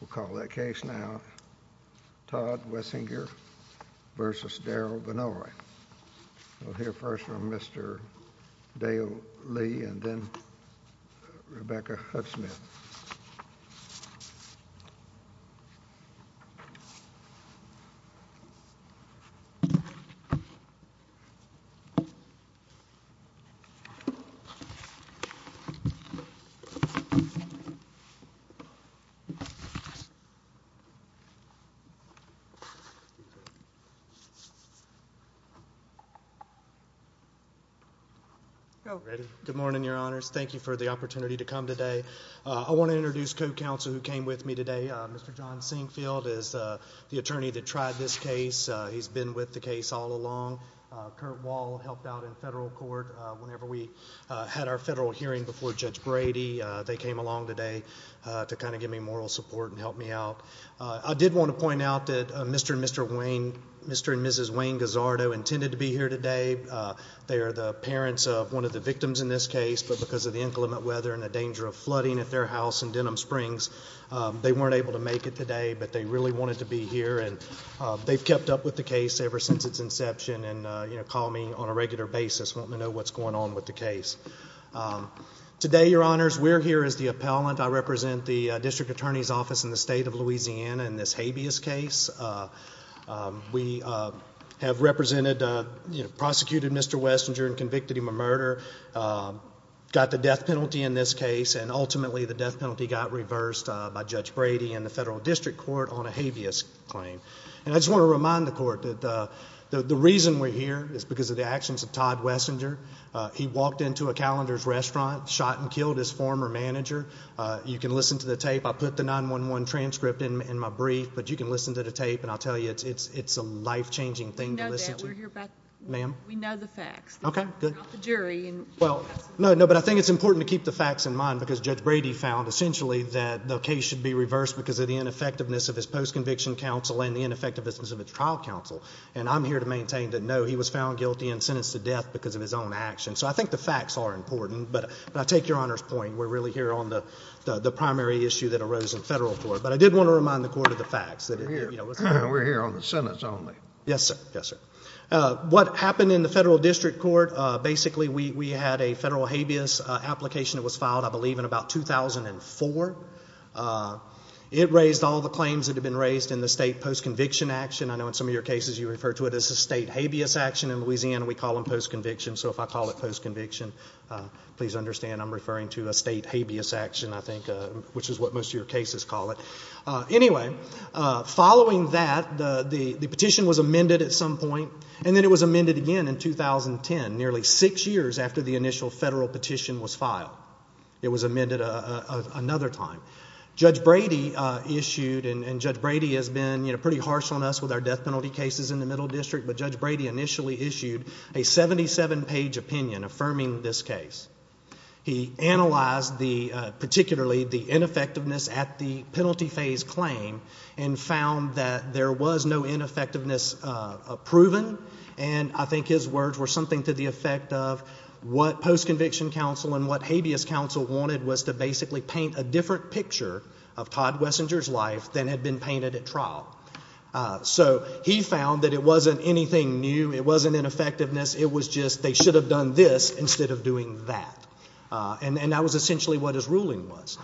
We'll call that case now, Todd Wessinger v. Darrel Vannoy. We'll hear first from Mr. Dale Lee and then Rebecca Hucksmith. Good morning, Your Honors. Thank you for the opportunity to come today. I want to introduce co-counsel who came with me today. Mr. John Singfield is the attorney that tried this case. He's been with the case all along. Kurt Wall helped out in federal court whenever we had our federal hearing before Judge Brady. They came along today to kind of give me moral support and help me out. I did want to point out that Mr. and Mrs. Wayne Gazzardo intended to be here today. They are the parents of one of the victims in this case, but because of the inclement weather and the danger of flooding at their house in Denham Springs, they weren't able to make it today, but they really wanted to be here. They've kept up with the case ever since its inception and call me on a regular basis, wanting to know what's going on with the case. Today, Your Honors, we're here as the appellant. I represent the district attorney's office in the state of Louisiana in this habeas case. We have represented, prosecuted Mr. Wessinger and convicted him of murder, got the death penalty in this case, and ultimately the death penalty got reversed by Judge Brady and the federal district court on a habeas claim. I just want to remind the court that the reason we're here is because of the actions of Todd Wessinger. He walked into a Calendars restaurant, shot and killed his former manager. You can listen to the tape. I put the 9-1-1 transcript in my brief, but you can listen to the tape, and I'll tell you it's a life-changing thing to listen to. We know that. Ma'am? We know the facts. Okay, good. You're not the jury. No, but I think it's important to keep the facts in mind because Judge Brady found, essentially, that the case should be reversed because of the ineffectiveness of his post-conviction counsel and the ineffectiveness of his trial counsel, and I'm here to maintain that, no, he was found guilty and sentenced to death because of his own actions. So I think the facts are important, but I take Your Honor's point. We're really here on the primary issue that arose in federal court. But I did want to remind the court of the facts. We're here on the sentence only. Yes, sir. Yes, sir. What happened in the federal district court, basically, we had a federal habeas application that was filed, I believe, in about 2004. It raised all the claims that had been raised in the state post-conviction action. I know in some of your cases you refer to it as a state habeas action. In Louisiana, we call them post-conviction. So if I call it post-conviction, please understand I'm referring to a state habeas action, I think, which is what most of your cases call it. Anyway, following that, the petition was amended at some point, and then it was amended again in 2010, nearly six years after the initial federal petition was filed. It was amended another time. Judge Brady issued, and Judge Brady has been pretty harsh on us with our death penalty cases in the middle district, but Judge Brady initially issued a 77-page opinion affirming this case. He analyzed particularly the ineffectiveness at the penalty phase claim and found that there was no ineffectiveness proven, and I think his words were something to the effect of what post-conviction counsel and what habeas counsel wanted was to basically paint a different picture of Todd Wessinger's life than had been painted at trial. So he found that it wasn't anything new, it wasn't ineffectiveness, it was just they should have done this instead of doing that. And that was essentially what his ruling was.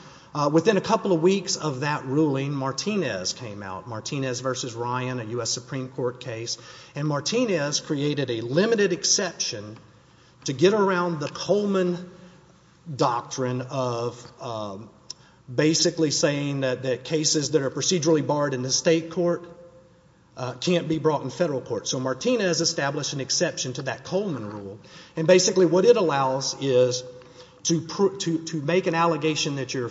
Within a couple of weeks of that ruling, Martinez came out, Martinez v. Ryan, a U.S. Supreme Court case, and Martinez created a limited exception to get around the Coleman doctrine of basically saying that cases that are procedurally barred in the state court can't be brought in federal court. So Martinez established an exception to that Coleman rule, and basically what it allows is to make an allegation that your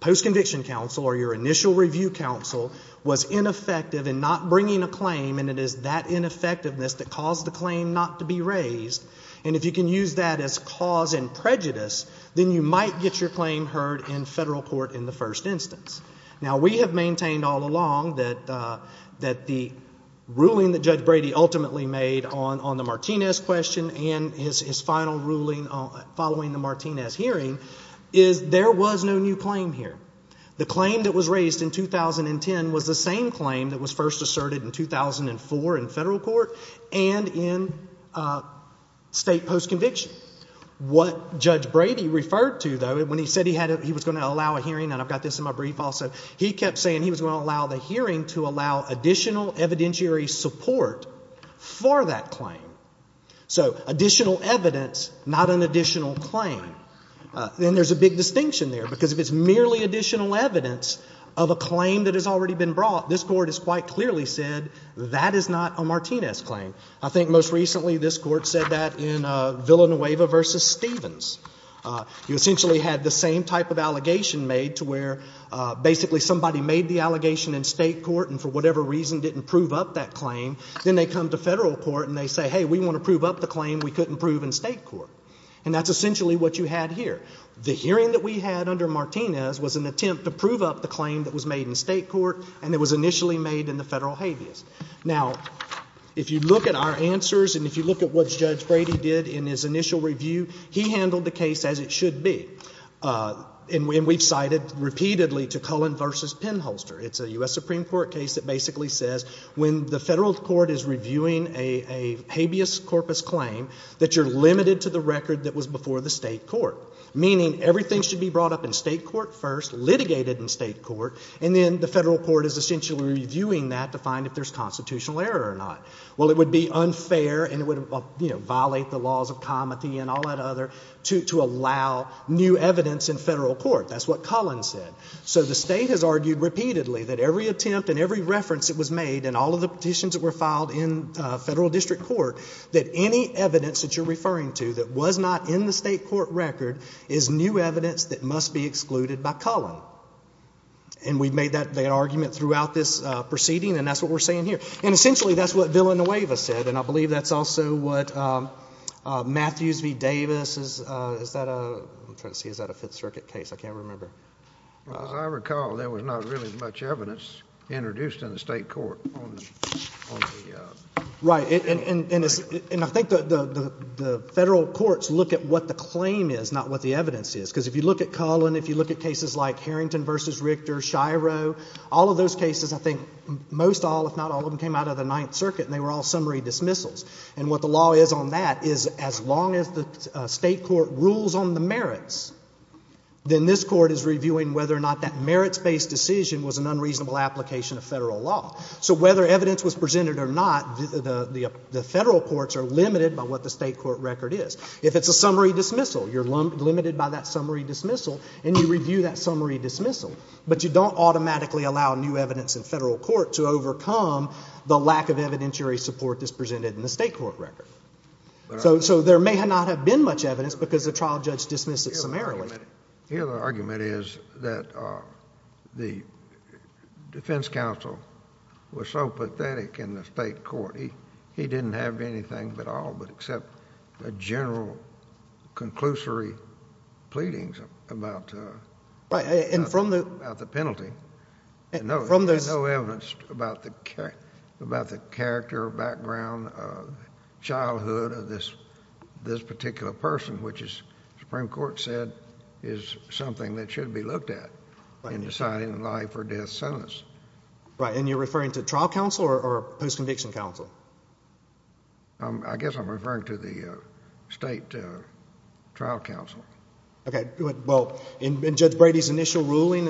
post-conviction counsel or your initial review counsel was ineffective in not bringing a claim and it is that ineffectiveness that caused the claim not to be raised. And if you can use that as cause and prejudice, then you might get your claim heard in federal court in the first instance. Now, we have maintained all along that the ruling that Judge Brady ultimately made on the Martinez question and his final ruling following the Martinez hearing is there was no new claim here. The claim that was raised in 2010 was the same claim that was first asserted in 2004 in federal court and in state post-conviction. What Judge Brady referred to, though, when he said he was going to allow a hearing, and I've got this in my brief also, he kept saying he was going to allow the hearing to allow additional evidentiary support for that claim. So additional evidence, not an additional claim. Then there's a big distinction there because if it's merely additional evidence of a claim that has already been brought, this Court has quite clearly said that is not a Martinez claim. I think most recently this Court said that in Villanueva v. Stevens. You essentially had the same type of allegation made to where basically somebody made the allegation in state court and for whatever reason didn't prove up that claim. Then they come to federal court and they say, hey, we want to prove up the claim we couldn't prove in state court. And that's essentially what you had here. The hearing that we had under Martinez was an attempt to prove up the claim that was made in state court and that was initially made in the federal habeas. Now, if you look at our answers and if you look at what Judge Brady did in his initial review, he handled the case as it should be. And we've cited repeatedly to Cohen v. Penholster. It's a U.S. Supreme Court case that basically says when the federal court is reviewing a habeas corpus claim, that you're limited to the record that was before the state court, meaning everything should be brought up in state court first, litigated in state court, and then the federal court is essentially reviewing that to find if there's constitutional error or not. Well, it would be unfair and it would violate the laws of comity and all that other to allow new evidence in federal court. That's what Cullen said. So the state has argued repeatedly that every attempt and every reference that was made and all of the petitions that were filed in federal district court, that any evidence that you're referring to that was not in the state court record is new evidence that must be excluded by Cullen. And we've made that argument throughout this proceeding, and that's what we're saying here. And essentially that's what Villanueva said, and I believe that's also what Matthews v. Davis. Is that a Fifth Circuit case? I can't remember. As I recall, there was not really much evidence introduced in the state court. Right. And I think the federal courts look at what the claim is, not what the evidence is, because if you look at Cullen, if you look at cases like Harrington v. Richter, Shiro, all of those cases, I think most all, if not all of them, came out of the Ninth Circuit and they were all summary dismissals. And what the law is on that is as long as the state court rules on the merits, then this court is reviewing whether or not that merits-based decision was an unreasonable application of federal law. So whether evidence was presented or not, the federal courts are limited by what the state court record is. If it's a summary dismissal, you're limited by that summary dismissal, and you review that summary dismissal. But you don't automatically allow new evidence in federal court to overcome the lack of evidentiary support that's presented in the state court record. So there may not have been much evidence because the trial judge dismissed it summarily. The other argument is that the defense counsel was so pathetic in the state court, he didn't have anything at all but accept the general conclusory pleadings about the— Right, and from the— —about the penalty. And there's no evidence about the character, background, childhood of this particular person, which the Supreme Court said is something that should be looked at in deciding a life or death sentence. Right, and you're referring to trial counsel or post-conviction counsel? I guess I'm referring to the state trial counsel. Okay, well, in Judge Brady's initial ruling,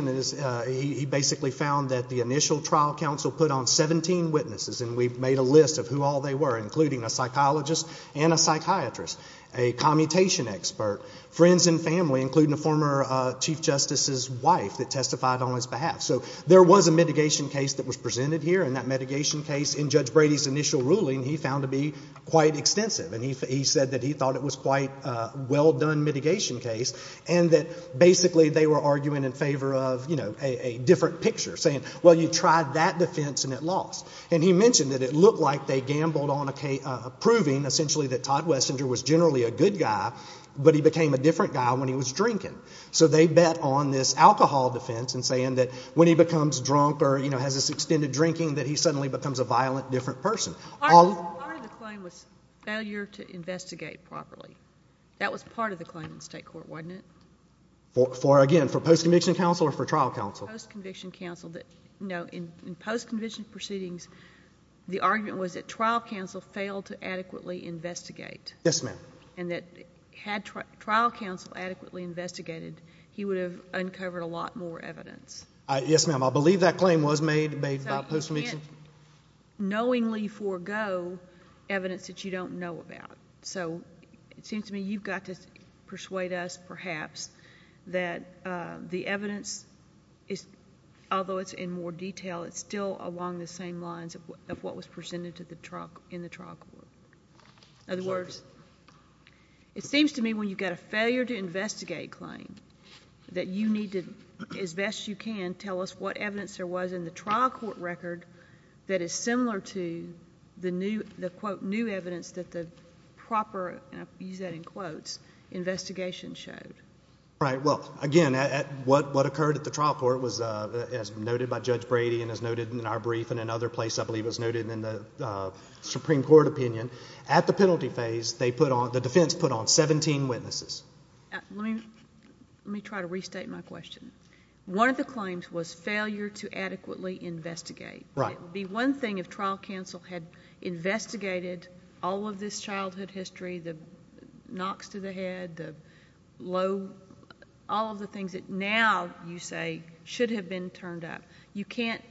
he basically found that the initial trial counsel put on 17 witnesses, and we've made a list of who all they were, including a psychologist and a psychiatrist, a commutation expert, friends and family, including a former chief justice's wife that testified on his behalf. So there was a mitigation case that was presented here, and that mitigation case in Judge Brady's initial ruling he found to be quite extensive. And he said that he thought it was quite a well-done mitigation case and that basically they were arguing in favor of, you know, a different picture, saying, well, you tried that defense and it lost. And he mentioned that it looked like they gambled on approving essentially that Todd Wessinger was generally a good guy, but he became a different guy when he was drinking. So they bet on this alcohol defense and saying that when he becomes drunk or, you know, has this extended drinking that he suddenly becomes a violent, different person. Part of the claim was failure to investigate properly. That was part of the claim in state court, wasn't it? Again, for post-conviction counsel or for trial counsel? Post-conviction counsel. No, in post-conviction proceedings, the argument was that trial counsel failed to adequately investigate. Yes, ma'am. And that had trial counsel adequately investigated, he would have uncovered a lot more evidence. I believe that claim was made about post-conviction. You can't knowingly forego evidence that you don't know about. So it seems to me you've got to persuade us perhaps that the evidence is, although it's in more detail, it's still along the same lines of what was presented in the trial court. In other words, it seems to me when you've got a failure to investigate claim that you need to, as best you can, tell us what evidence there was in the trial court record that is similar to the, quote, new evidence that the proper, and I'll use that in quotes, investigation showed. Right. Well, again, what occurred at the trial court was, as noted by Judge Brady and as noted in our brief and in other places, I believe it was noted in the Supreme Court opinion, at the penalty phase the defense put on 17 witnesses. Let me try to restate my question. One of the claims was failure to adequately investigate. Right. It would be one thing if trial counsel had investigated all of this childhood history, the knocks to the head, the low, all of the things that now you say should have been turned up. You can't,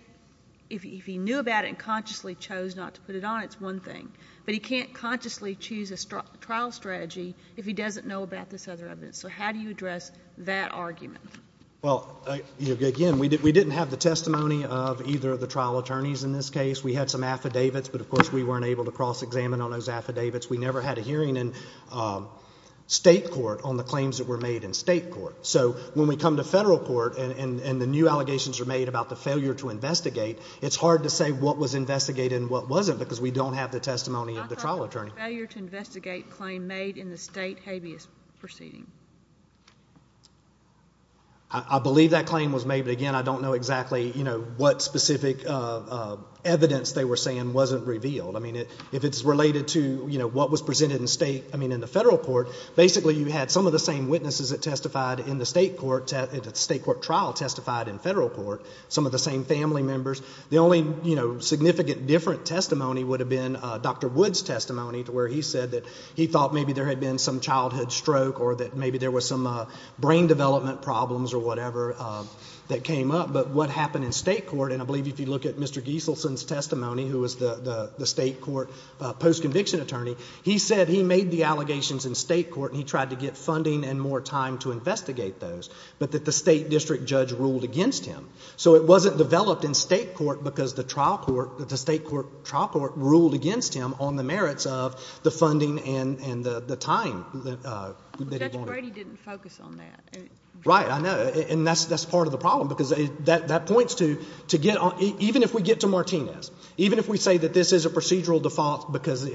if he knew about it and consciously chose not to put it on, it's one thing. But he can't consciously choose a trial strategy if he doesn't know about this other evidence. So how do you address that argument? Well, again, we didn't have the testimony of either of the trial attorneys in this case. We had some affidavits, but, of course, we weren't able to cross-examine on those affidavits. We never had a hearing in state court on the claims that were made in state court. So when we come to federal court and the new allegations are made about the failure to investigate, it's hard to say what was investigated and what wasn't because we don't have the testimony of the trial attorney. What was the failure to investigate claim made in the state habeas proceeding? I believe that claim was made, but, again, I don't know exactly what specific evidence they were saying wasn't revealed. If it's related to what was presented in the federal court, basically you had some of the same witnesses that testified in the state court trial testified in federal court, some of the same family members. The only, you know, significant different testimony would have been Dr. Wood's testimony to where he said that he thought maybe there had been some childhood stroke or that maybe there was some brain development problems or whatever that came up. But what happened in state court, and I believe if you look at Mr. Gieselson's testimony, who was the state court post-conviction attorney, he said he made the allegations in state court and he tried to get funding and more time to investigate those, but that the state district judge ruled against him. So it wasn't developed in state court because the state court trial court ruled against him on the merits of the funding and the time that he wanted. Judge Brady didn't focus on that. Right, I know, and that's part of the problem because that points to, even if we get to Martinez, even if we say that this is a procedural default because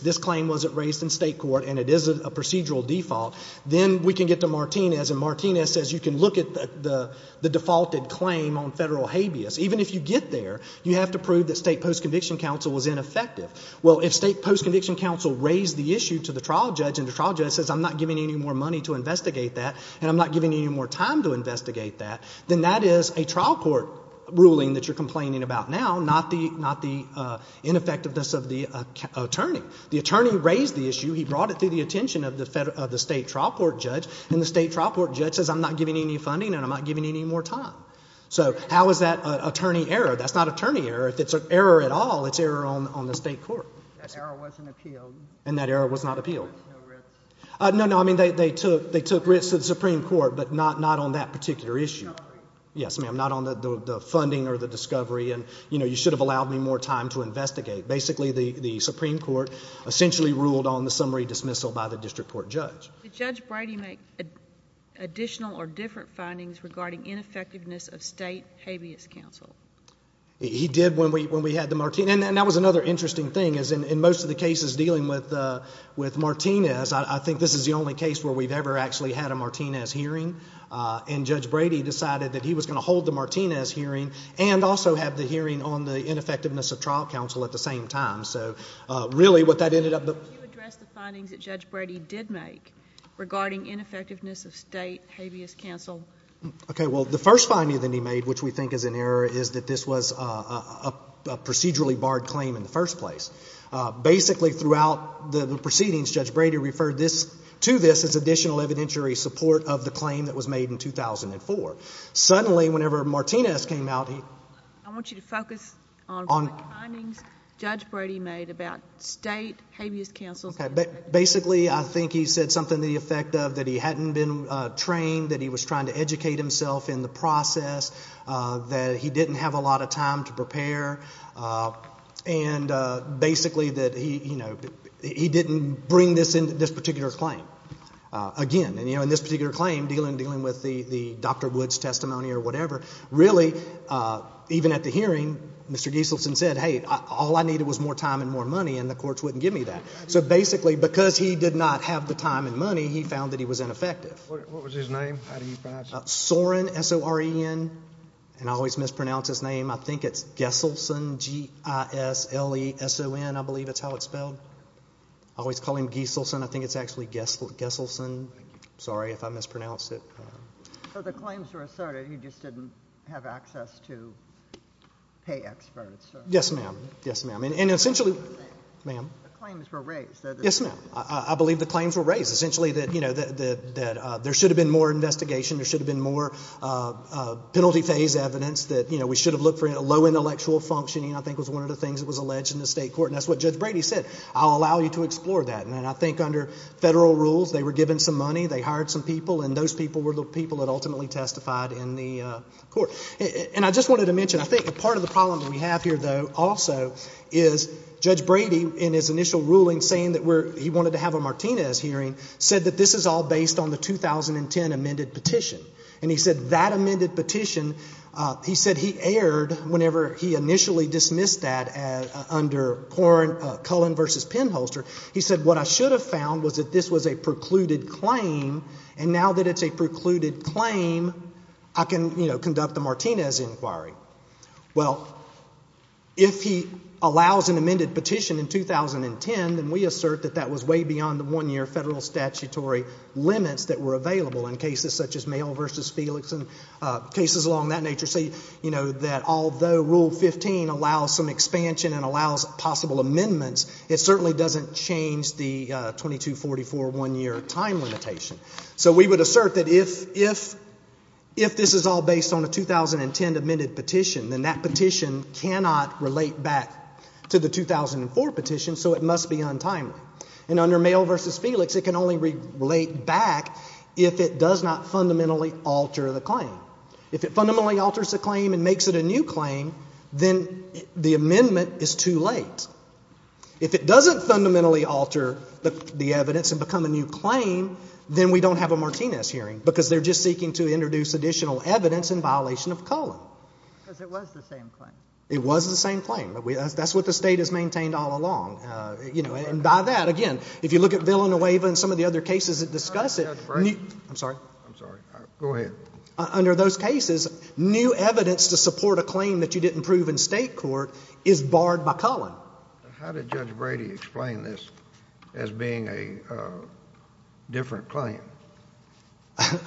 this claim wasn't raised in state court and it is a procedural default, then we can get to Martinez, and Martinez says you can look at the defaulted claim on federal habeas. Even if you get there, you have to prove that state post-conviction counsel was ineffective. Well, if state post-conviction counsel raised the issue to the trial judge and the trial judge says I'm not giving you any more money to investigate that and I'm not giving you any more time to investigate that, then that is a trial court ruling that you're complaining about now, not the ineffectiveness of the attorney. The attorney raised the issue, he brought it to the attention of the state trial court judge, and the state trial court judge says I'm not giving you any funding and I'm not giving you any more time. So how is that attorney error? That's not attorney error. If it's an error at all, it's error on the state court. That error wasn't appealed. And that error was not appealed. No, no, I mean they took risks to the Supreme Court, but not on that particular issue. Yes, ma'am, not on the funding or the discovery and, you know, you should have allowed me more time to investigate. Basically the Supreme Court essentially ruled on the summary dismissal by the district court judge. Did Judge Brady make additional or different findings regarding ineffectiveness of state habeas counsel? He did when we had the Martinez. And that was another interesting thing is in most of the cases dealing with Martinez, I think this is the only case where we've ever actually had a Martinez hearing, and Judge Brady decided that he was going to hold the Martinez hearing and also have the hearing on the ineffectiveness of trial counsel at the same time. Could you address the findings that Judge Brady did make regarding ineffectiveness of state habeas counsel? Okay, well, the first finding that he made, which we think is an error, is that this was a procedurally barred claim in the first place. Basically throughout the proceedings, Judge Brady referred to this as additional evidentiary support of the claim that was made in 2004. Suddenly, whenever Martinez came out, he— I want you to focus on the findings Judge Brady made about state habeas counsel. Basically, I think he said something to the effect of that he hadn't been trained, that he was trying to educate himself in the process, that he didn't have a lot of time to prepare, and basically that he didn't bring this particular claim. Again, in this particular claim, dealing with the Dr. Woods testimony or whatever, really, even at the hearing, Mr. Gieselson said, hey, all I needed was more time and more money and the courts wouldn't give me that. So basically, because he did not have the time and money, he found that he was ineffective. What was his name? How do you pronounce it? Soren, S-O-R-E-N, and I always mispronounce his name. I think it's Gieselson, G-I-S-L-E-S-O-N, I believe that's how it's spelled. I always call him Gieselson. I think it's actually Gieselson. Sorry if I mispronounced it. So the claims were asserted, he just didn't have access to pay experts. Yes, ma'am. Yes, ma'am. And essentially, ma'am. The claims were raised. Yes, ma'am. I believe the claims were raised. Essentially that there should have been more investigation, there should have been more penalty phase evidence, that we should have looked for low intellectual functioning, I think was one of the things that was alleged in the state court, and that's what Judge Brady said, I'll allow you to explore that. And I think under federal rules, they were given some money, they hired some people, and those people were the people that ultimately testified in the court. And I just wanted to mention, I think part of the problem that we have here, though, also, is Judge Brady in his initial ruling saying that he wanted to have a Martinez hearing, said that this is all based on the 2010 amended petition. And he said that amended petition, he said he aired whenever he initially dismissed that under Cullen v. Penholster, he said what I should have found was that this was a precluded claim, and now that it's a precluded claim, I can, you know, conduct a Martinez inquiry. Well, if he allows an amended petition in 2010, then we assert that that was way beyond the one-year federal statutory limits that were available in cases such as Mayell v. Felix and cases along that nature. So, you know, that although Rule 15 allows some expansion and allows possible amendments, it certainly doesn't change the 2244 one-year time limitation. So we would assert that if this is all based on a 2010 amended petition, then that petition cannot relate back to the 2004 petition, so it must be untimely. And under Mayell v. Felix, it can only relate back if it does not fundamentally alter the claim. If it fundamentally alters the claim and makes it a new claim, then the amendment is too late. If it doesn't fundamentally alter the evidence and become a new claim, then we don't have a Martinez hearing because they're just seeking to introduce additional evidence in violation of Cullen. Because it was the same claim. It was the same claim, but that's what the State has maintained all along. You know, and by that, again, if you look at Villanueva and some of the other cases that discuss it, I'm sorry. I'm sorry. Go ahead. Under those cases, new evidence to support a claim that you didn't prove in State court is barred by Cullen. How did Judge Brady explain this as being a different claim?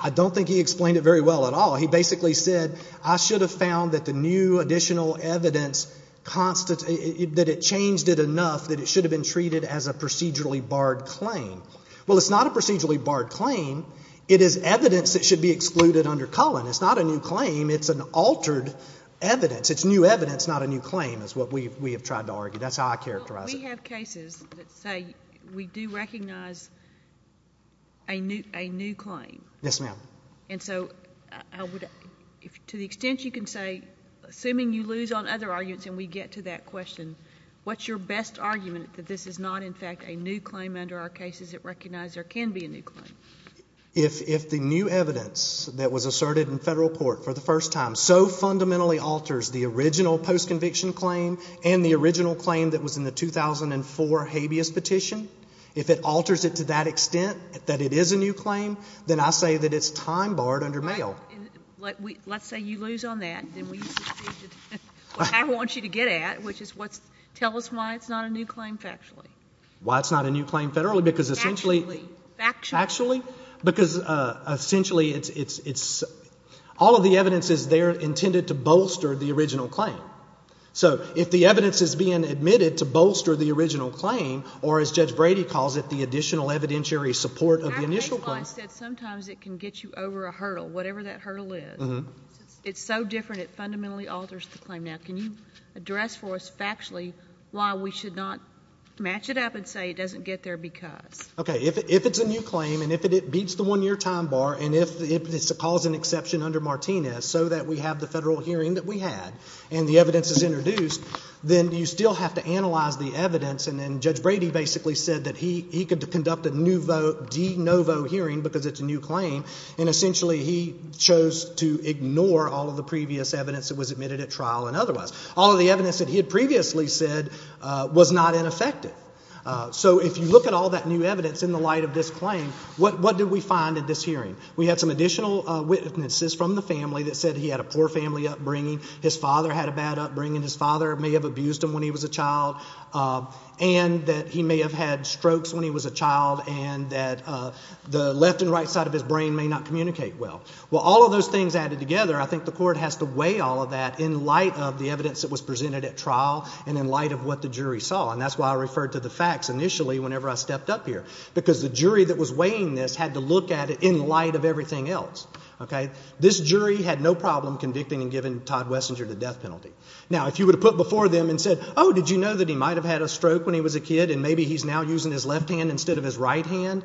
I don't think he explained it very well at all. He basically said, I should have found that the new additional evidence, that it changed it enough that it should have been treated as a procedurally barred claim. Well, it's not a procedurally barred claim. It is evidence that should be excluded under Cullen. It's not a new claim. It's an altered evidence. It's new evidence, not a new claim is what we have tried to argue. That's how I characterize it. Well, we have cases that say we do recognize a new claim. Yes, ma'am. And so to the extent you can say, assuming you lose on other arguments and we get to that question, what's your best argument that this is not, in fact, a new claim under our cases that recognize there can be a new claim? If the new evidence that was asserted in Federal court for the first time so fundamentally alters the original postconviction claim and the original claim that was in the 2004 habeas petition, if it alters it to that extent that it is a new claim, then I say that it's time barred under Mayo. Well, let's say you lose on that. Then I want you to get at, which is what's, tell us why it's not a new claim factually. Why it's not a new claim federally because essentially. Factually. Factually. Because essentially it's, all of the evidence is there intended to bolster the original claim. So if the evidence is being admitted to bolster the original claim, or as Judge Brady calls it, the additional evidentiary support of the initial claim. Well, I said sometimes it can get you over a hurdle, whatever that hurdle is. It's so different it fundamentally alters the claim. Now, can you address for us factually why we should not match it up and say it doesn't get there because. Okay. If it's a new claim and if it beats the one-year time bar and if it's a cause and exception under Martinez so that we have the Federal hearing that we had and the evidence is introduced, then you still have to analyze the evidence. And then Judge Brady basically said that he could conduct a de novo hearing because it's a new claim. And essentially he chose to ignore all of the previous evidence that was admitted at trial and otherwise. All of the evidence that he had previously said was not ineffective. So if you look at all that new evidence in the light of this claim, what did we find at this hearing? We had some additional witnesses from the family that said he had a poor family upbringing, his father had a bad upbringing, his father may have abused him when he was a child, and that he may have had strokes when he was a child and that the left and right side of his brain may not communicate well. Well, all of those things added together, I think the court has to weigh all of that in light of the evidence that was presented at trial and in light of what the jury saw, and that's why I referred to the facts initially whenever I stepped up here, because the jury that was weighing this had to look at it in light of everything else. This jury had no problem convicting and giving Todd Wessinger the death penalty. Now, if you would have put before them and said, oh, did you know that he might have had a stroke when he was a kid and maybe he's now using his left hand instead of his right hand,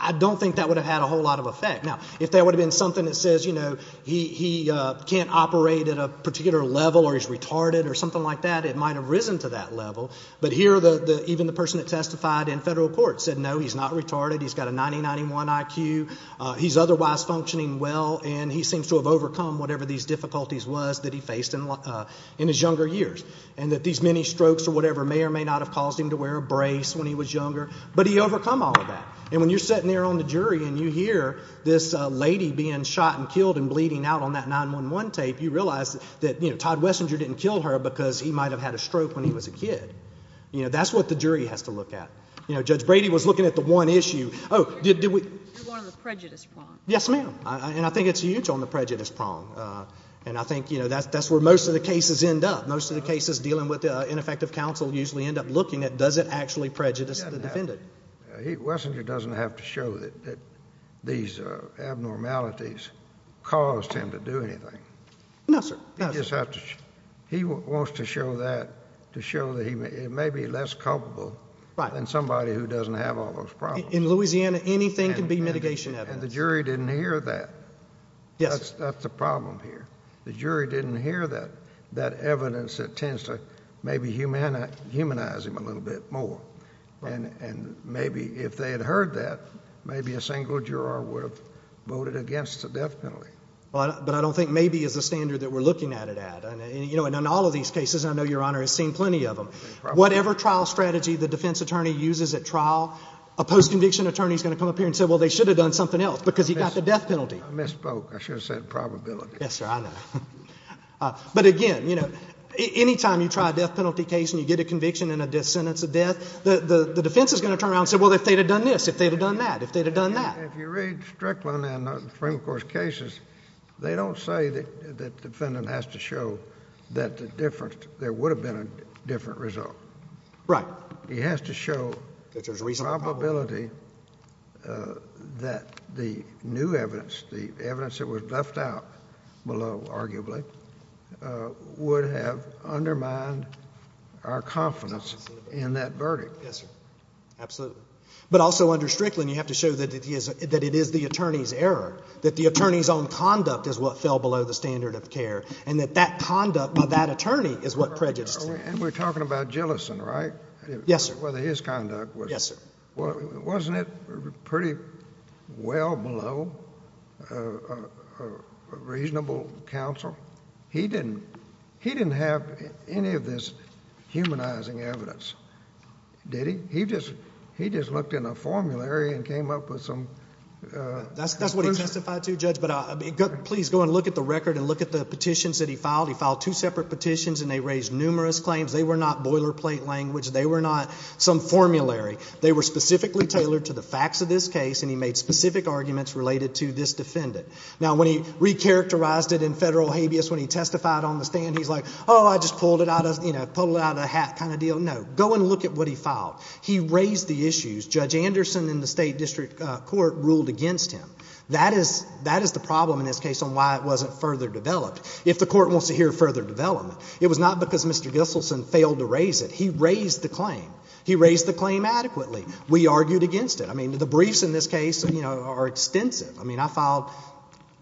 I don't think that would have had a whole lot of effect. Now, if that would have been something that says he can't operate at a particular level or he's retarded or something like that, it might have risen to that level. But here even the person that testified in federal court said no, he's not retarded, he's got a 90-91 IQ, he's otherwise functioning well, and he seems to have overcome whatever these difficulties was that he faced in his younger years and that these many strokes or whatever may or may not have caused him to wear a brace when he was younger, but he overcome all of that. And when you're sitting there on the jury and you hear this lady being shot and killed and bleeding out on that 911 tape, you realize that Todd Wessinger didn't kill her because he might have had a stroke when he was a kid. That's what the jury has to look at. Judge Brady was looking at the one issue. The one on the prejudice prong. Yes, ma'am. And I think it's huge on the prejudice prong. And I think that's where most of the cases end up. Most of the cases dealing with ineffective counsel usually end up looking at does it actually prejudice the defendant. Wessinger doesn't have to show that these abnormalities caused him to do anything. No, sir. He wants to show that to show that he may be less culpable than somebody who doesn't have all those problems. In Louisiana, anything can be mitigation evidence. And the jury didn't hear that. Yes. That's the problem here. The jury didn't hear that evidence that tends to maybe humanize him a little bit more. And maybe if they had heard that, maybe a single juror would have voted against the death penalty. But I don't think maybe is the standard that we're looking at it at. And in all of these cases, and I know Your Honor has seen plenty of them, whatever trial strategy the defense attorney uses at trial, a post-conviction attorney is going to come up here and say, well, they should have done something else because he got the death penalty. I misspoke. I should have said probability. Yes, sir. I know. But, again, you know, any time you try a death penalty case and you get a conviction and a sentence of death, the defense is going to turn around and say, well, if they'd have done this, if they'd have done that, if they'd have done that. If you read Strickland and the Supreme Court's cases, they don't say that the defendant has to show that there would have been a different result. Right. He has to show probability that the new evidence, the evidence that was left out below, arguably, would have undermined our confidence in that verdict. Yes, sir. Absolutely. But also under Strickland you have to show that it is the attorney's error, that the attorney's own conduct is what fell below the standard of care, and that that conduct by that attorney is what prejudiced him. And we're talking about Gillison, right? Yes, sir. Whether his conduct was... Yes, sir. Wasn't it pretty well below a reasonable counsel? He didn't have any of this humanizing evidence, did he? He just looked in a formulary and came up with some proof. That's what he testified to, Judge. But please go and look at the record and look at the petitions that he filed. He filed two separate petitions, and they raised numerous claims. They were not boilerplate language. They were not some formulary. They were specifically tailored to the facts of this case, and he made specific arguments related to this defendant. Now, when he recharacterized it in federal habeas, when he testified on the stand, he's like, oh, I just pulled it out of the hat kind of deal. But no, go and look at what he filed. He raised the issues. Judge Anderson in the State District Court ruled against him. That is the problem in this case on why it wasn't further developed. If the court wants to hear further development, it was not because Mr. Gillison failed to raise it. He raised the claim. He raised the claim adequately. We argued against it. I mean, the briefs in this case are extensive. I mean, I filed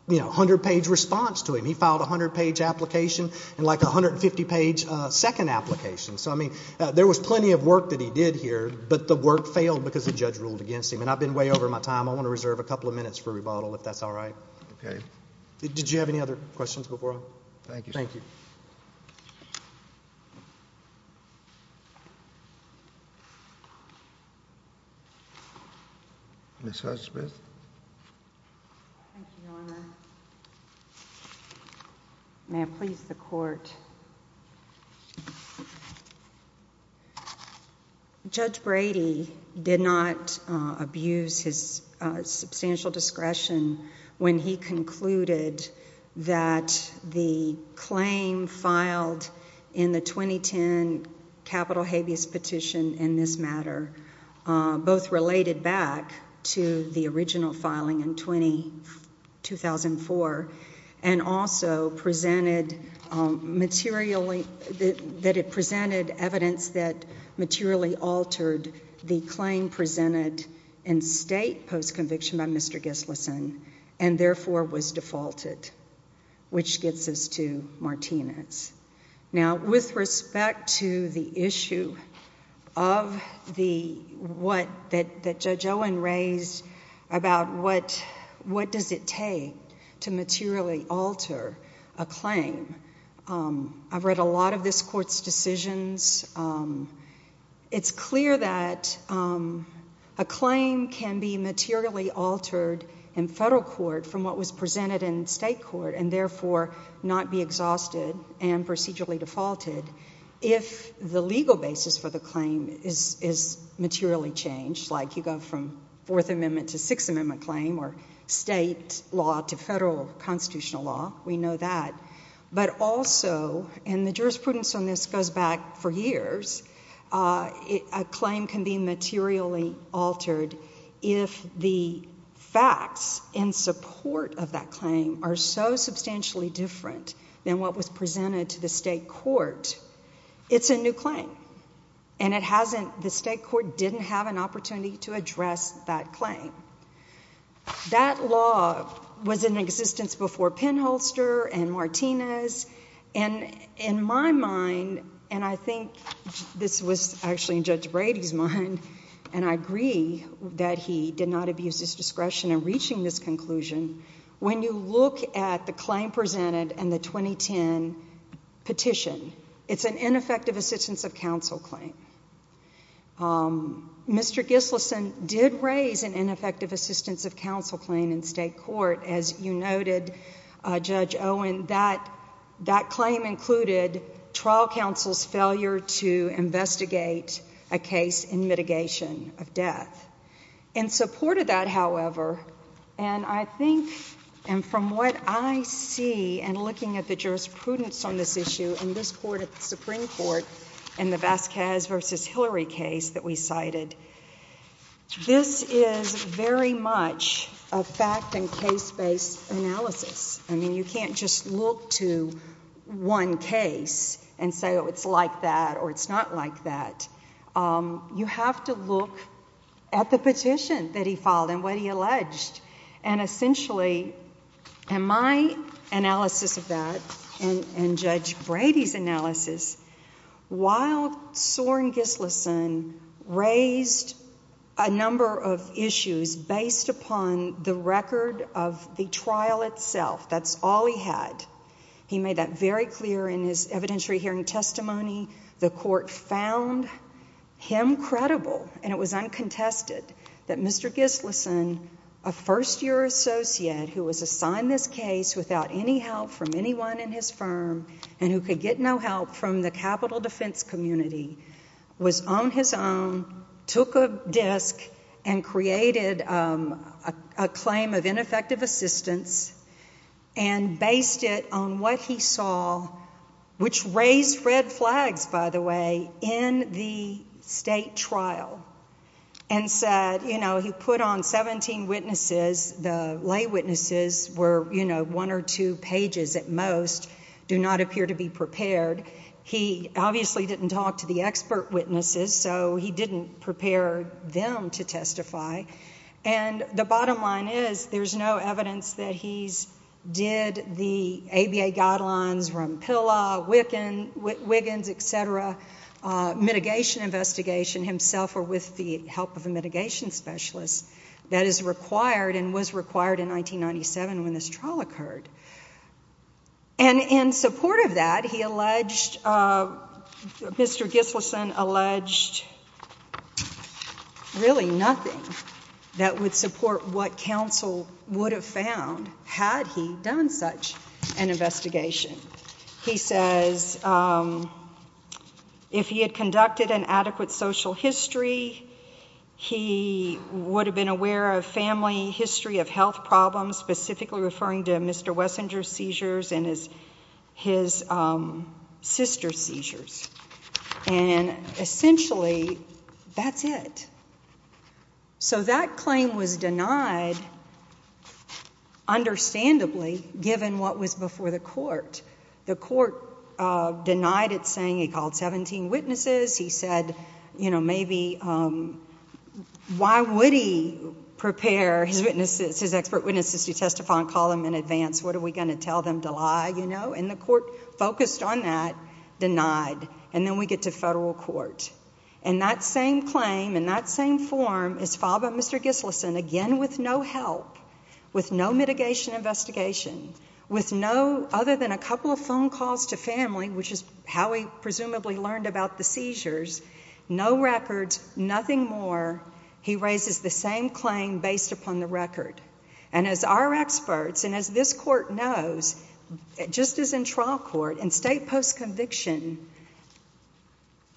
a hundred-page response to him. He filed a hundred-page application and like a 150-page second application. So, I mean, there was plenty of work that he did here, but the work failed because the judge ruled against him. And I've been way over my time. I want to reserve a couple of minutes for rebuttal if that's all right. Okay. Did you have any other questions before I go? Thank you, sir. Ms. Hudson-Smith. Thank you, Your Honor. May I please the court? Judge Brady did not abuse his substantial discretion when he concluded that the claim filed in the 2010 capital habeas petition in this matter both related back to the original filing in 2004 and also presented materially that it presented evidence that materially altered the claim presented in state post-conviction by Mr. Gillison and therefore was defaulted, which gets us to Martinez. Now, with respect to the issue that Judge Owen raised about what does it take to materially alter a claim, I've read a lot of this court's decisions. It's clear that a claim can be materially altered in federal court from what was presented in state court and therefore not be exhausted and procedurally defaulted if the legal basis for the claim is materially changed, like you go from Fourth Amendment to Sixth Amendment claim or state law to federal constitutional law. We know that. But also, and the jurisprudence on this goes back for years, a claim can be materially altered if the facts in support of that claim are so substantially different than what was presented to the state court. It's a new claim, and the state court didn't have an opportunity to address that claim. That law was in existence before Penholster and Martinez, and in my mind, and I think this was actually in Judge Brady's mind, and I agree that he did not abuse his discretion in reaching this conclusion, when you look at the claim presented and the 2010 petition, it's an ineffective assistance of counsel claim. Mr. Gillison did raise an ineffective assistance of counsel claim in state court. As you noted, Judge Owen, that claim included trial counsel's failure to investigate a case in mitigation of death. In support of that, however, and I think, and from what I see in looking at the jurisprudence on this issue in this Supreme Court in the Vasquez v. Hillary case that we cited, this is very much a fact and case-based analysis. I mean, you can't just look to one case and say, oh, it's like that or it's not like that. You have to look at the petition that he filed and what he alleged, and essentially, in my analysis of that and Judge Brady's analysis, while Soren Gillison raised a number of issues based upon the record of the trial itself. That's all he had. He made that very clear in his evidentiary hearing testimony. The court found him credible, and it was uncontested, that Mr. Gillison, a first-year associate who was assigned this case without any help from anyone in his firm and who could get no help from the capital defense community, was on his own, took a disk, and created a claim of ineffective assistance and based it on what he saw, which raised red flags, by the way, in the state trial, and said, you know, he put on 17 witnesses. The lay witnesses were, you know, one or two pages at most. They do not appear to be prepared. He obviously didn't talk to the expert witnesses, so he didn't prepare them to testify. And the bottom line is there's no evidence that he did the ABA guidelines from PILA, Wiggins, et cetera, mitigation investigation himself or with the help of a mitigation specialist that is required and was required in 1997 when this trial occurred. And in support of that, he alleged... Mr. Gillison alleged really nothing that would support what counsel would have found had he done such an investigation. He says if he had conducted an adequate social history, he would have been aware of family history of health problems, specifically referring to Mr. Wessinger's seizures and his sister's seizures. And essentially, that's it. So that claim was denied, understandably, given what was before the court. The court denied it, saying he called 17 witnesses. He said, you know, maybe... prepare his expert witnesses to testify and call them in advance. What, are we going to tell them to lie, you know? And the court focused on that, denied. And then we get to federal court. And that same claim in that same form is filed by Mr. Gillison, again with no help, with no mitigation investigation, with no...other than a couple of phone calls to family, which is how he presumably learned about the seizures, no records, nothing more. He raises the same claim based upon the record. And as our experts and as this court knows, just as in trial court, in state post-conviction,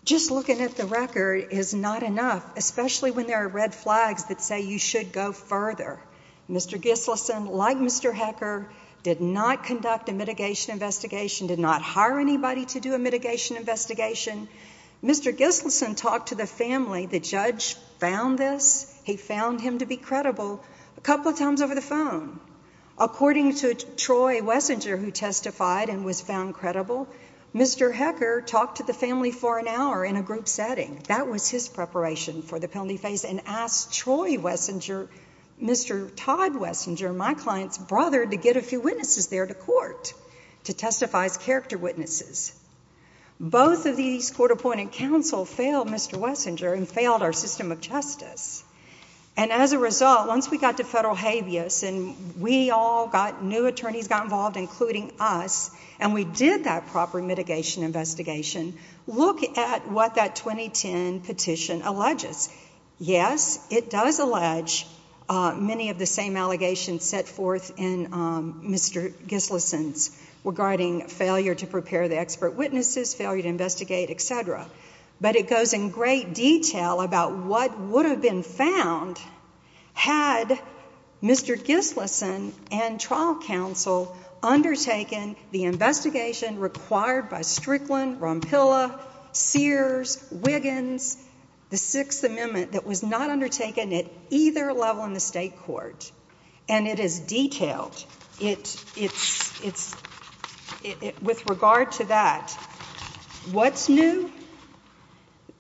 just looking at the record is not enough, especially when there are red flags that say you should go further. Mr. Gillison, like Mr. Hecker, did not conduct a mitigation investigation, did not hire anybody to do a mitigation investigation. Mr. Gillison talked to the family. The judge found this. He found him to be credible. A couple of times over the phone. According to Troy Wessinger, who testified and was found credible, Mr. Hecker talked to the family for an hour in a group setting. That was his preparation for the penalty phase and asked Troy Wessinger, Mr. Todd Wessinger, my client's brother, to get a few witnesses there to court to testify as character witnesses. Both of these court-appointed counsel failed Mr. Wessinger and failed our system of justice. And as a result, once we got to federal habeas and we all got new attorneys got involved, including us, and we did that proper mitigation investigation, look at what that 2010 petition alleges. Yes, it does allege many of the same allegations set forth in Mr. Gillison's regarding failure to prepare the expert witnesses, failure to investigate, et cetera. But it goes in great detail about what would have been found had Mr. Gillison and trial counsel undertaken the investigation required by Strickland, Rompilla, Sears, Wiggins, the Sixth Amendment that was not undertaken at either level in the state court. And it is detailed. It's...with regard to that, what's new?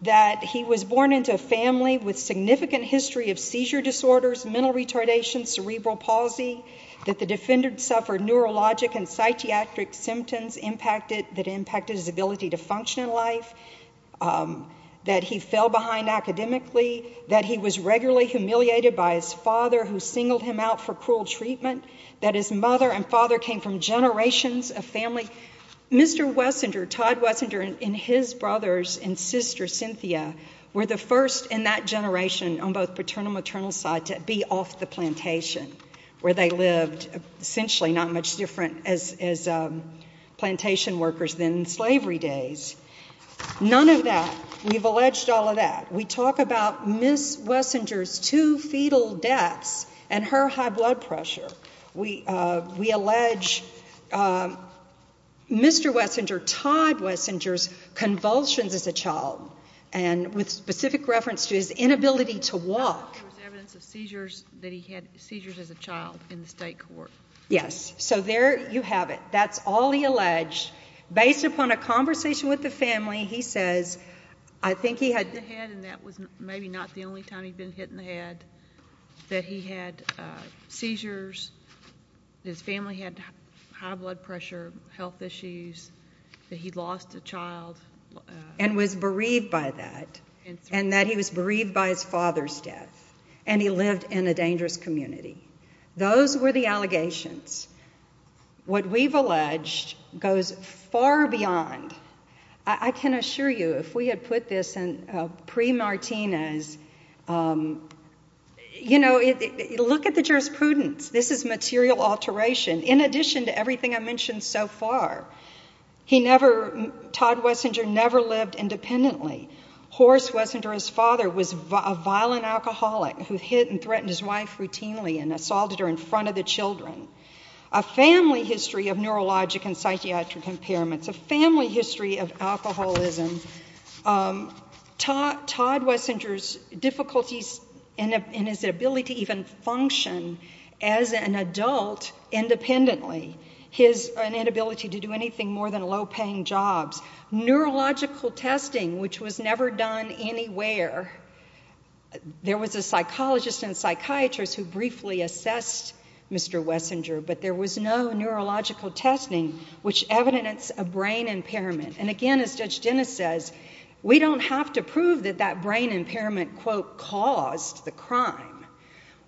That he was born into a family with significant history of seizure disorders, mental retardation, cerebral palsy, that the defendant suffered neurologic and psychiatric symptoms that impacted his ability to function in life, that he was regularly humiliated by his father who singled him out for cruel treatment, that his mother and father came from generations of family... Mr. Wessinger, Todd Wessinger, and his brothers and sister Cynthia were the first in that generation on both paternal and maternal side to be off the plantation, where they lived essentially not much different as plantation workers than in slavery days. None of that. We've alleged all of that. We talk about Miss Wessinger's two fetal deaths and her high blood pressure. We allege Mr. Wessinger, Todd Wessinger's convulsions as a child, and with specific reference to his inability to walk. There was evidence of seizures that he had, seizures as a child, in the state court. Yes. So there you have it. That's all he alleged. Based upon a conversation with the family, he says, I think he had... And that was maybe not the only time he'd been hit in the head, that he had seizures, his family had high blood pressure, health issues, that he'd lost a child. And was bereaved by that, and that he was bereaved by his father's death, and he lived in a dangerous community. Those were the allegations. What we've alleged goes far beyond. I can assure you, if we had put this pre-Martinez... You know, look at the jurisprudence. This is material alteration, in addition to everything I've mentioned so far. He never... Todd Wessinger never lived independently. Horace Wessinger, his father, was a violent alcoholic who hit and threatened his wife routinely and assaulted her in front of the children. A family history of neurologic and psychiatric impairments, a family history of alcoholism. Todd Wessinger's difficulties in his ability to even function as an adult independently, his inability to do anything more than low-paying jobs, neurological testing, which was never done anywhere. There was a psychologist and psychiatrist who briefly assessed Mr Wessinger, but there was no neurological testing, which evidenced a brain impairment. And again, as Judge Dennis says, we don't have to prove that that brain impairment quote, caused the crime.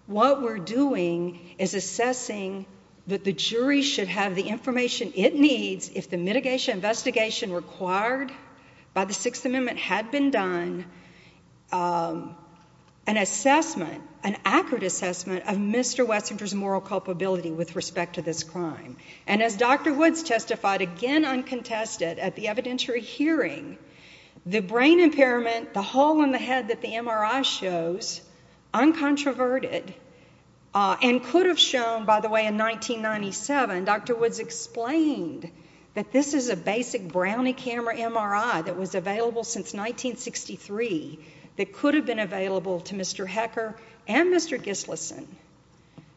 What we're doing is assessing that the jury should have the information it needs if the mitigation investigation required by the Sixth Amendment had been done, an assessment, an accurate assessment, of Mr Wessinger's moral culpability with respect to this crime. And as Dr Woods testified, again uncontested, at the evidentiary hearing, the brain impairment, the hole in the head that the MRI shows, uncontroverted, and could have shown, by the way, in 1997, Dr Woods explained that this is a basic Brownie camera MRI that was available since 1963 that could have been available to Mr Hecker and Mr Gislason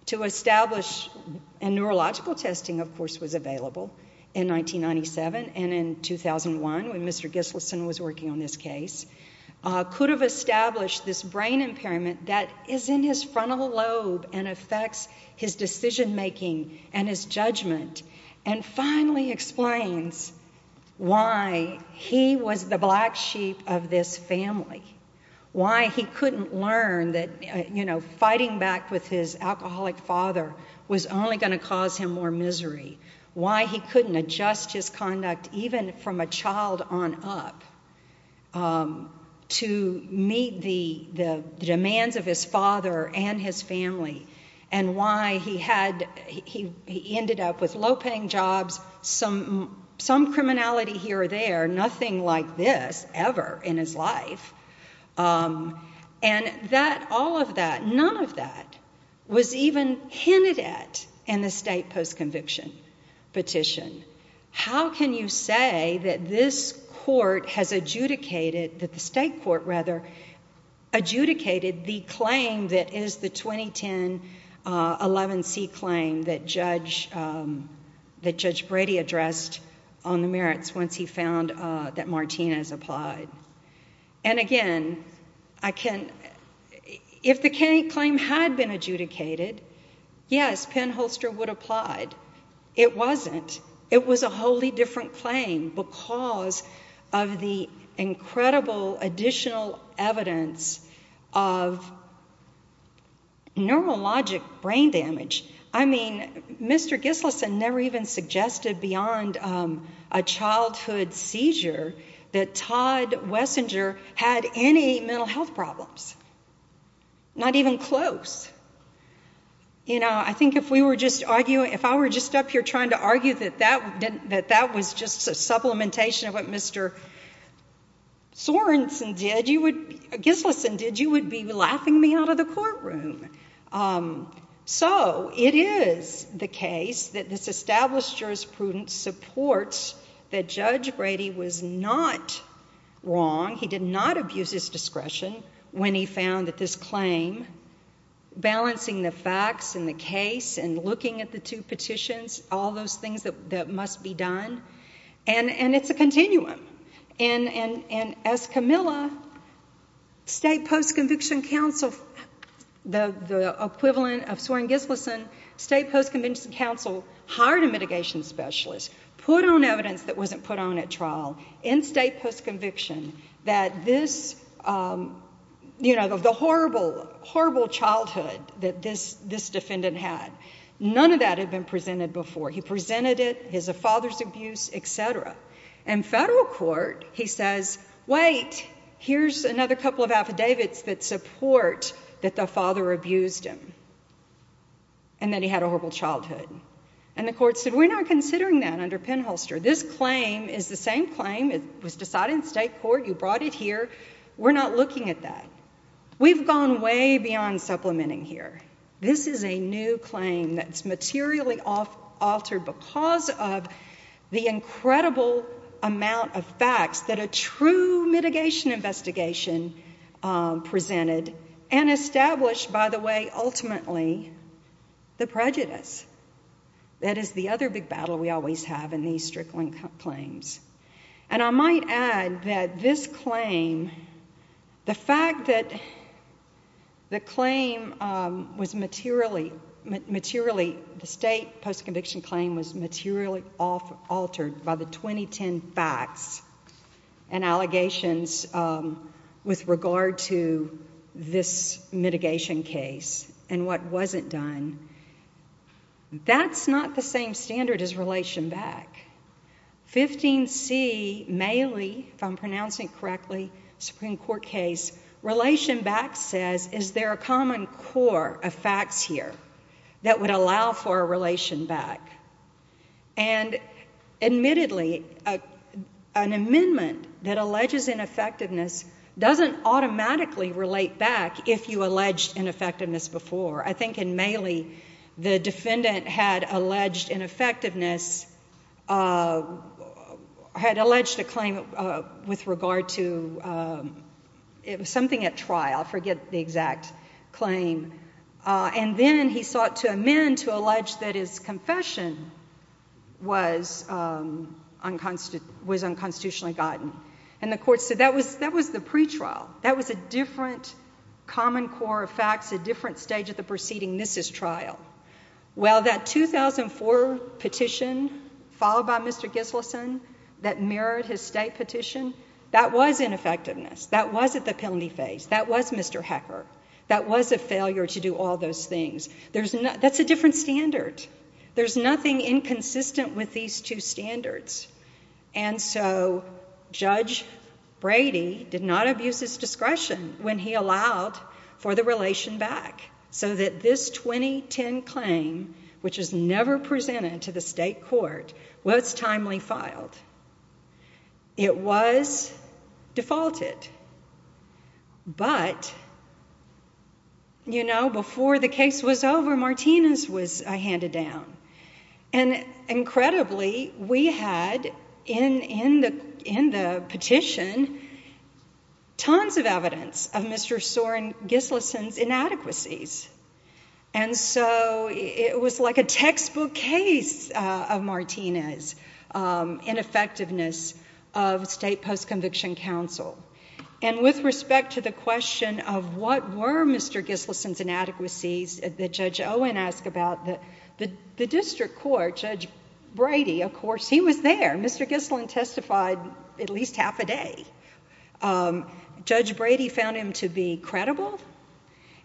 to establish, and neurological testing, of course, was available in 1997 and in 2001 when Mr Gislason was working on this case, could have established this brain impairment that is in his frontal lobe and affects his decision-making and his judgment and finally explains why he was the black sheep of this family, why he couldn't learn that, you know, going back with his alcoholic father was only going to cause him more misery, why he couldn't adjust his conduct, even from a child on up, to meet the demands of his father and his family, and why he ended up with low-paying jobs, some criminality here or there, nothing like this ever in his life. And all of that, none of that, was even hinted at in the state post-conviction petition. How can you say that this court has adjudicated, that the state court, rather, adjudicated the claim that is the 2010 11C claim that Judge Brady addressed on the merits once he found that Martinez applied? And again, I can... If the claim had been adjudicated, yes, Penn Holster would have applied. It wasn't. It was a wholly different claim because of the incredible additional evidence of neurologic brain damage. I mean, Mr Gislason never even suggested beyond a childhood seizure that Todd Wessinger had any mental health problems. Not even close. You know, I think if we were just arguing... If I were just up here trying to argue that that was just a supplementation of what Mr Sorenson did, you would... Gislason did, you would be laughing me out of the courtroom. So it is the case that this established jurisprudence that supports that Judge Brady was not wrong, he did not abuse his discretion when he found that this claim, balancing the facts and the case and looking at the two petitions, all those things that must be done, and it's a continuum. And as Camilla, State Post-Conviction Counsel, the equivalent of Soren Gislason, State Post-Conviction Counsel hired a mitigation specialist, put on evidence that wasn't put on at trial in State Post-Conviction, that this, you know, the horrible, horrible childhood that this defendant had, none of that had been presented before. He presented it, his father's abuse, etc. In federal court, he says, wait, here's another couple of affidavits that support that the father abused him. And that he had a horrible childhood. And the court said, we're not considering that under Penholster. This claim is the same claim, it was decided in state court, you brought it here, we're not looking at that. We've gone way beyond supplementing here. This is a new claim that's materially altered because of the incredible amount of facts that a true mitigation investigation presented and established, by the way, ultimately, the prejudice. That is the other big battle we always have in these strickling claims. And I might add that this claim, the fact that the claim was materially, the State Post-Conviction claim was materially altered by the 2010 facts and allegations with regard to this mitigation case and what wasn't done, that's not the same standard as Relation Back. 15C, Mailey, if I'm pronouncing it correctly, Supreme Court case, Relation Back says, is there a common core of facts here that would allow for a Relation Back? And admittedly, an amendment that alleges ineffectiveness doesn't automatically relate back if you alleged ineffectiveness before. I think in Mailey, the defendant had alleged ineffectiveness, had alleged a claim with regard to... It was something at trial, I forget the exact claim. And then he sought to amend to allege that his confession was unconstitutionally gotten. And the court said that was the pretrial. That was a different common core of facts, a different stage of the proceeding. This is trial. Well, that 2004 petition, followed by Mr Gislason that mirrored his State petition, that was ineffectiveness. That was at the penalty phase. That was Mr Hecker. That was a failure to do all those things. That's a different standard. There's nothing inconsistent with these two standards. And so Judge Brady did not abuse his discretion when he allowed for the Relation Back so that this 2010 claim, which is never presented to the state court, was timely filed. It was defaulted. But, you know, before the case was over, Martinez was handed down. And incredibly, we had in the petition tons of evidence of Mr Soren Gislason's inadequacies. And so it was like a textbook case of Martinez's ineffectiveness of state post-conviction counsel. And with respect to the question of what were Mr Gislason's inadequacies that Judge Owen asked about, the district court, Judge Brady, of course, he was there. Mr Gislason testified at least half a day. Judge Brady found him to be credible,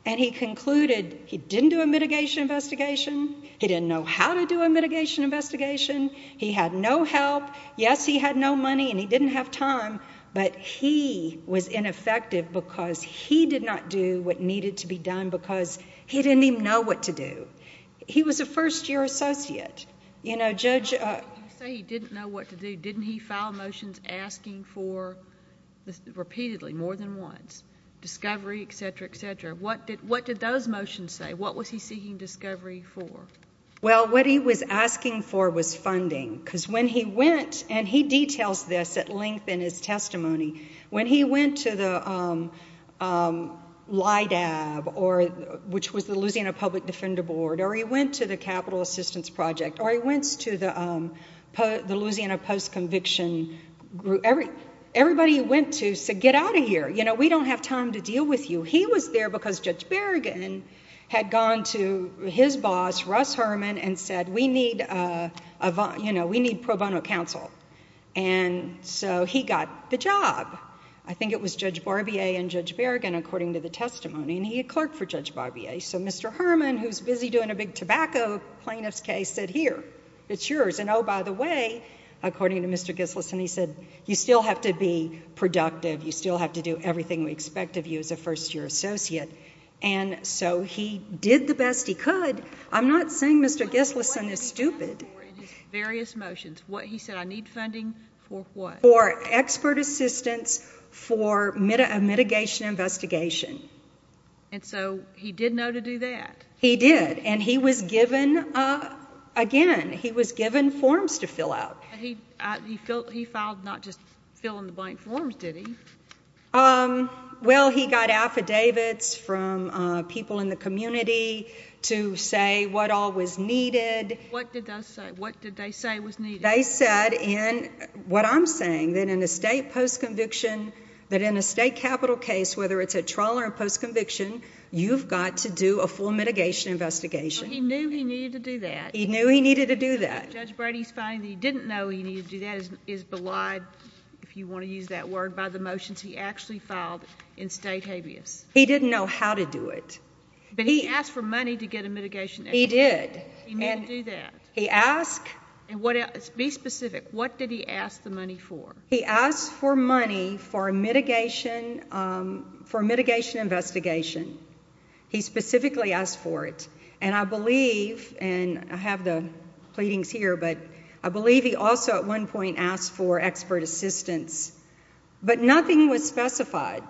and he concluded he didn't do a mitigation investigation, he didn't know how to do a mitigation investigation, he had no help, yes, he had no money, and he didn't have time, but he was ineffective because he did not do what needed to be done because he didn't even know what to do. He was a first-year associate. You know, Judge... You say he didn't know what to do. Didn't he file motions asking for, repeatedly, more than once, discovery, et cetera, et cetera? What did those motions say? What was he seeking discovery for? Well, what he was asking for was funding, because when he went, and he details this at length in his testimony, when he went to the LIDAB, which was the Louisiana Public Defender Board, or he went to the Capital Assistance Project, or he went to the Louisiana Post-Conviction... Everybody he went to said, get out of here, you know, we don't have time to deal with you. He was there because Judge Berrigan had gone to his boss, Russ Herman, and said, we need pro bono counsel. And so he got the job. I think it was Judge Barbier and Judge Berrigan, according to the testimony, and he had clerked for Judge Barbier. So Mr. Herman, who was busy doing a big tobacco plaintiff's case, said, here, it's yours. And, oh, by the way, according to Mr. Gissless, and he said, you still have to be productive, you still have to do everything we expect of you as a first-year associate. And so he did the best he could. I'm not saying Mr. Gissless is stupid. Various motions. He said, I need funding for what? For expert assistance for a mitigation investigation. And so he did know to do that? He did. And he was given, again, he was given forms to fill out. He filed not just fill-in-the-blank forms, did he? Well, he got affidavits from people in the community to say what all was needed. What did they say was needed? They said, what I'm saying, that in a state post-conviction, that in a state capital case, whether it's a trial or a post-conviction, you've got to do a full mitigation investigation. So he knew he needed to do that? He knew he needed to do that. Judge Brady's finding that he didn't know he needed to do that is belied, if you want to use that word, by the motions he actually filed in state habeas. He didn't know how to do it. But he asked for money to get a mitigation. He did. He knew to do that. He asked. Be specific. What did he ask the money for? He asked for money for a mitigation investigation. He specifically asked for it. And I believe, and I have the pleadings here, but I believe he also at one point asked for expert assistance. But nothing was specified.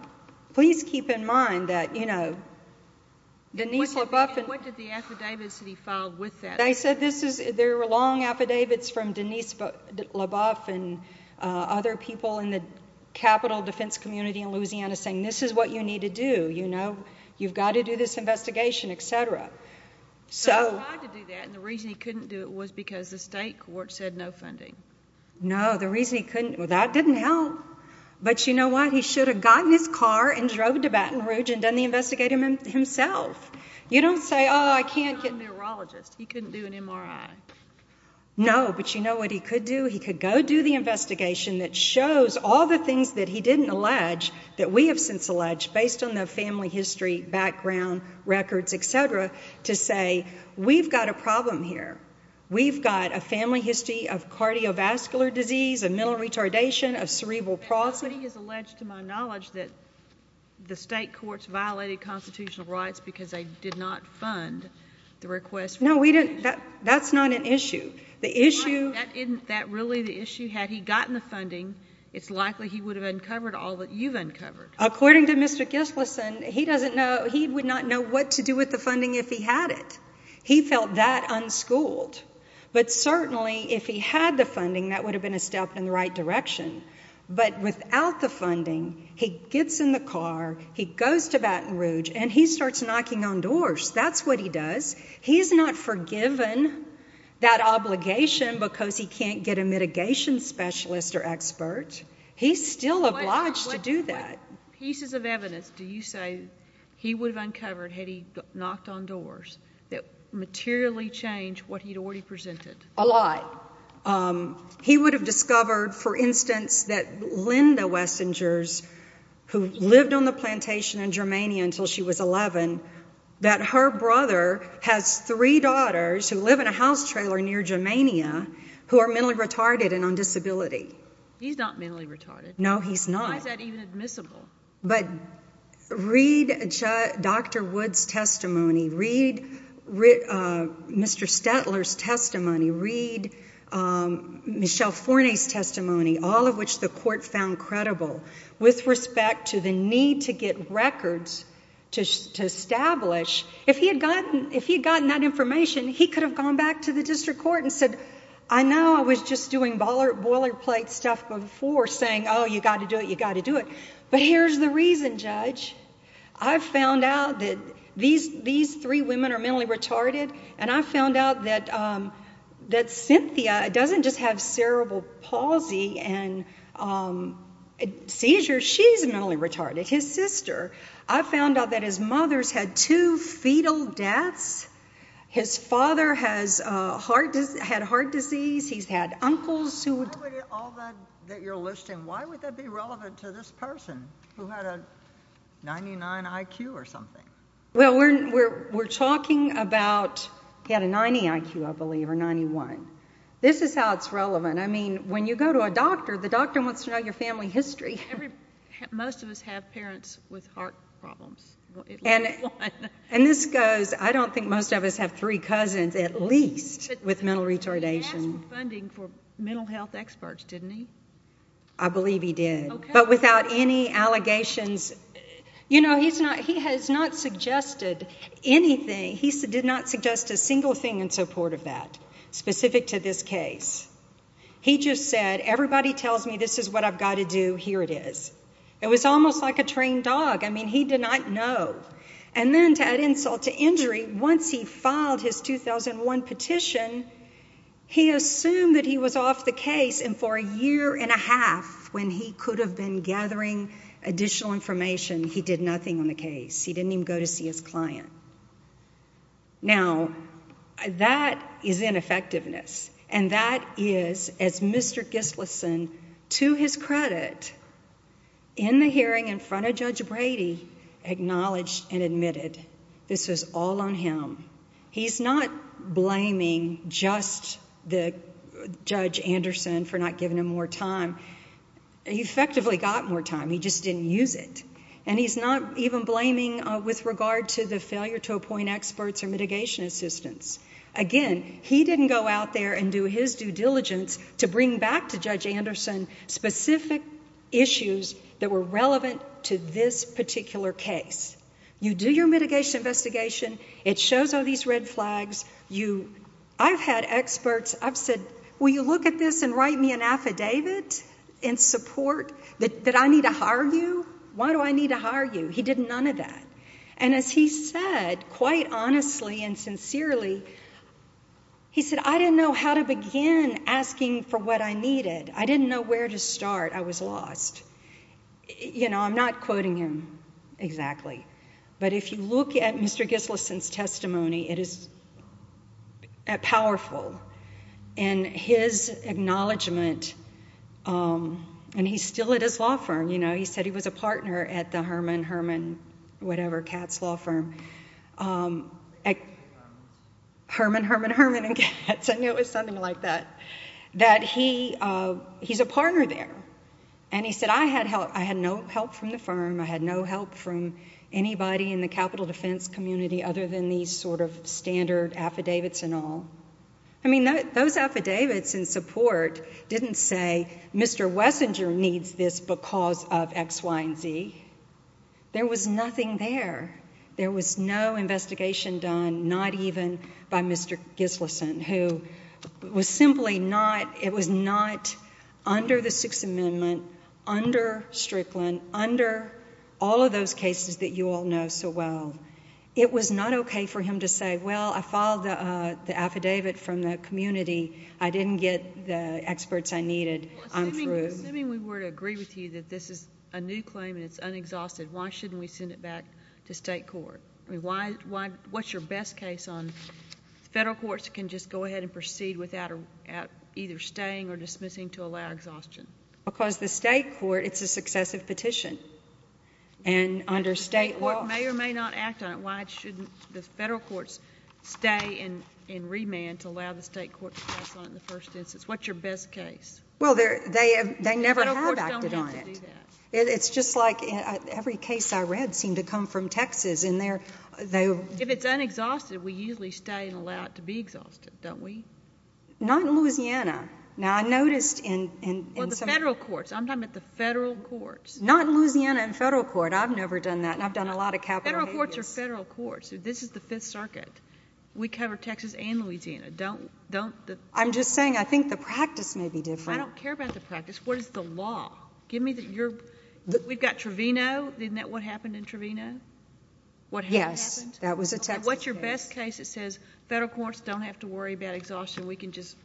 Please keep in mind that, you know, Denise LaBeouf. What did the affidavits that he filed with that say? They said there were long affidavits from Denise LaBeouf and other people in the capital defense community in Louisiana saying this is what you need to do, you know, you've got to do this investigation, et cetera. But he tried to do that, and the reason he couldn't do it was because the state court said no funding. No, the reason he couldn't, well, that didn't help. But you know what? He should have gotten his car and drove to Baton Rouge and done the investigation himself. You don't say, oh, I can't get a neurologist. He couldn't do an MRI. No, but you know what he could do? He could go do the investigation that shows all the things that he didn't allege that we have since alleged based on the family history, background, records, et cetera, to say we've got a problem here. We've got a family history of cardiovascular disease, a mental retardation, a cerebral palsy. Nobody has alleged to my knowledge that the state courts violated constitutional rights because they did not fund the request. No, that's not an issue. That really the issue? Had he gotten the funding, it's likely he would have uncovered all that you've uncovered. According to Mr. Gislason, he would not know what to do with the funding if he had it. He felt that unschooled. But certainly if he had the funding, that would have been a step in the right direction. But without the funding, he gets in the car, he goes to Baton Rouge, and he starts knocking on doors. That's what he does. He's not forgiven that obligation because he can't get a mitigation specialist or expert. He's still obliged to do that. What pieces of evidence do you say he would have uncovered had he knocked on doors that materially changed what he'd already presented? A lot. He would have discovered, for instance, that Linda Wessingers, who lived on the plantation in Germania until she was 11, that her brother has three daughters who live in a house trailer near Germania who are mentally retarded and on disability. He's not mentally retarded. No, he's not. Why is that even admissible? But read Dr. Wood's testimony. Read Mr. Stettler's testimony. Read Michelle Forney's testimony, all of which the court found credible. With respect to the need to get records to establish, if he had gotten that information, he could have gone back to the district court and said, I know I was just doing boilerplate stuff before saying, oh, you've got to do it, you've got to do it, but here's the reason, Judge. I found out that these three women are mentally retarded, and I found out that Cynthia doesn't just have cerebral palsy and seizures. She's mentally retarded, his sister. I found out that his mother's had two fetal deaths. His father has had heart disease. He's had uncles who would... Out of all that you're listing, why would that be relevant to this person who had a 99 IQ or something? Well, we're talking about he had a 90 IQ, I believe, or 91. This is how it's relevant. I mean, when you go to a doctor, the doctor wants to know your family history. Most of us have parents with heart problems. And this goes... I don't think most of us have three cousins at least with mental retardation. He asked for funding for mental health experts, didn't he? I believe he did. But without any allegations... You know, he has not suggested anything. He did not suggest a single thing in support of that specific to this case. He just said, everybody tells me this is what I've got to do, here it is. It was almost like a trained dog. I mean, he did not know. And then to add insult to injury, once he filed his 2001 petition, he assumed that he was off the case. And for a year and a half when he could have been gathering additional information, he did nothing on the case. He didn't even go to see his client. Now, that is ineffectiveness. And that is, as Mr. Gislason, to his credit, in the hearing in front of Judge Brady, acknowledged and admitted this was all on him. He's not blaming just Judge Anderson for not giving him more time. He effectively got more time. He just didn't use it. And he's not even blaming with regard to the failure to appoint experts or mitigation assistants. Again, he didn't go out there and do his due diligence to bring back to Judge Anderson specific issues that were relevant to this particular case. You do your mitigation investigation. It shows all these red flags. I've had experts. I've said, will you look at this and write me an affidavit in support that I need to hire you? Why do I need to hire you? He did none of that. And as he said, quite honestly and sincerely, he said, I didn't know how to begin asking for what I needed. I didn't know where to start. I was lost. You know, I'm not quoting him exactly. But if you look at Mr. Gislason's testimony, it is powerful. And his acknowledgment, and he's still at his law firm, you know, he said he was a partner at the Herman, Herman, whatever, Katz Law Firm. Herman, Herman, Herman and Katz. I knew it was something like that, that he's a partner there. And he said, I had no help from the firm. I had no help from anybody in the capital defense community other than these sort of standard affidavits and all. I mean, those affidavits in support didn't say, Mr. Wessinger needs this because of X, Y, and Z. There was nothing there. There was no investigation done, not even by Mr. Gislason, who was simply not, it was not under the Sixth Amendment, under Strickland, under all of those cases that you all know so well. It was not okay for him to say, well, I followed the affidavit from the community. I didn't get the experts I needed. I'm through. Assuming we were to agree with you that this is a new claim and it's unexhausted, why shouldn't we send it back to state court? I mean, what's your best case on federal courts can just go ahead and proceed without either staying or dismissing to allow exhaustion? Because the state court, it's a successive petition. The state court may or may not act on it. Why shouldn't the federal courts stay and remand to allow the state court to pass on it in the first instance? What's your best case? Well, they never have acted on it. Federal courts don't have to do that. It's just like every case I read seemed to come from Texas. If it's unexhausted, we usually stay and allow it to be exhausted, don't we? Not in Louisiana. Well, the federal courts. I'm talking about the federal courts. Not in Louisiana in federal court. I've never done that, and I've done a lot of capital cases. Federal courts are federal courts. This is the Fifth Circuit. We cover Texas and Louisiana. I'm just saying I think the practice may be different. I don't care about the practice. What is the law? We've got Trevino. Isn't that what happened in Trevino? Yes, that was a Texas case. What's your best case that says federal courts don't have to worry about exhaustion? We can just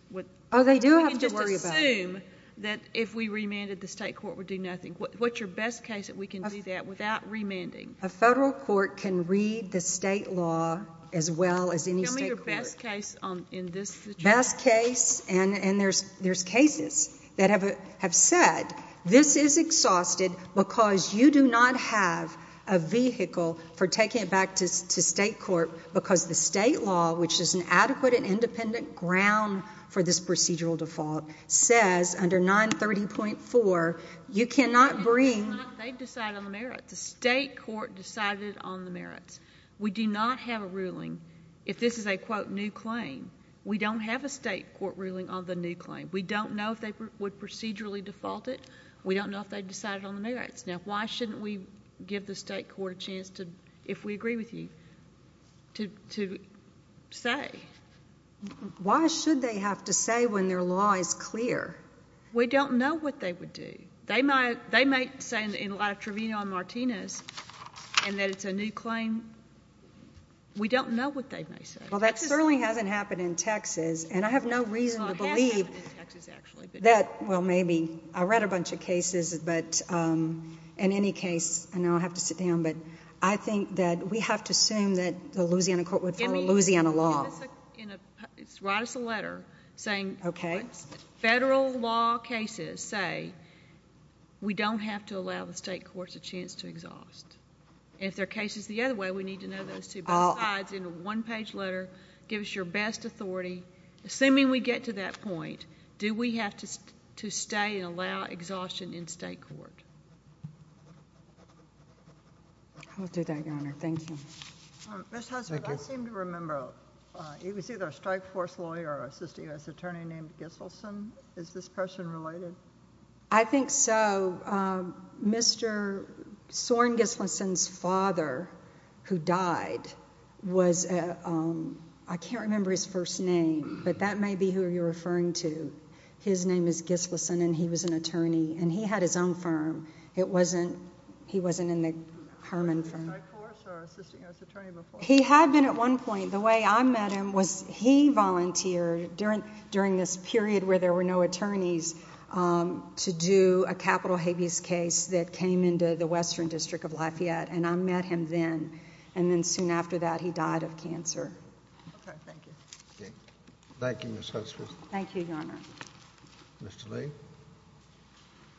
assume that if we remanded, the state court would do nothing. What's your best case that we can do that without remanding? A federal court can read the state law as well as any state court. Tell me your best case in this situation. Best case, and there's cases that have said this is exhausted because you do not have a vehicle for taking it back to state court because the state law, which is an adequate and independent ground for this procedural default, says under 930.4 you cannot bring the state court decided on the merits. We do not have a ruling. If this is a, quote, new claim, we don't have a state court ruling on the new claim. We don't know if they would procedurally default it. We don't know if they decided on the merits. Now, why shouldn't we give the state court a chance, if we agree with you, to say? Why should they have to say when their law is clear? We don't know what they would do. They might say in light of Trevino and Martinez and that it's a new claim. We don't know what they may say. Well, that certainly hasn't happened in Texas, and I have no reason to believe that. Well, maybe. I read a bunch of cases, but in any case, I know I have to sit down, but I think that we have to assume that the Louisiana court would follow Louisiana law. Write us a letter saying what federal law cases say. We don't have to allow the state courts a chance to exhaust. If there are cases the other way, we need to know those, too. But besides, in a one-page letter, give us your best authority. Assuming we get to that point, do we have to stay and allow exhaustion in state court? I'll do that, Your Honor. Thank you. Ms. Husserl, I seem to remember he was either a strike force lawyer or an assistant U.S. attorney named Giselson. Is this person related? I think so. Mr. Soren Giselson's father, who died, was a – I can't remember his first name, but that may be who you're referring to. His name is Giselson, and he was an attorney, and he had his own firm. He wasn't in the Herman firm. Was he a strike force or an assistant U.S. attorney before? He had been at one point. The way I met him was he volunteered during this period where there were no attorneys to do a capital habeas case that came into the Western District of Lafayette, and I met him then. And then soon after that, he died of cancer. Okay. Thank you. Thank you, Ms. Husserl. Thank you, Your Honor. Mr. Lee,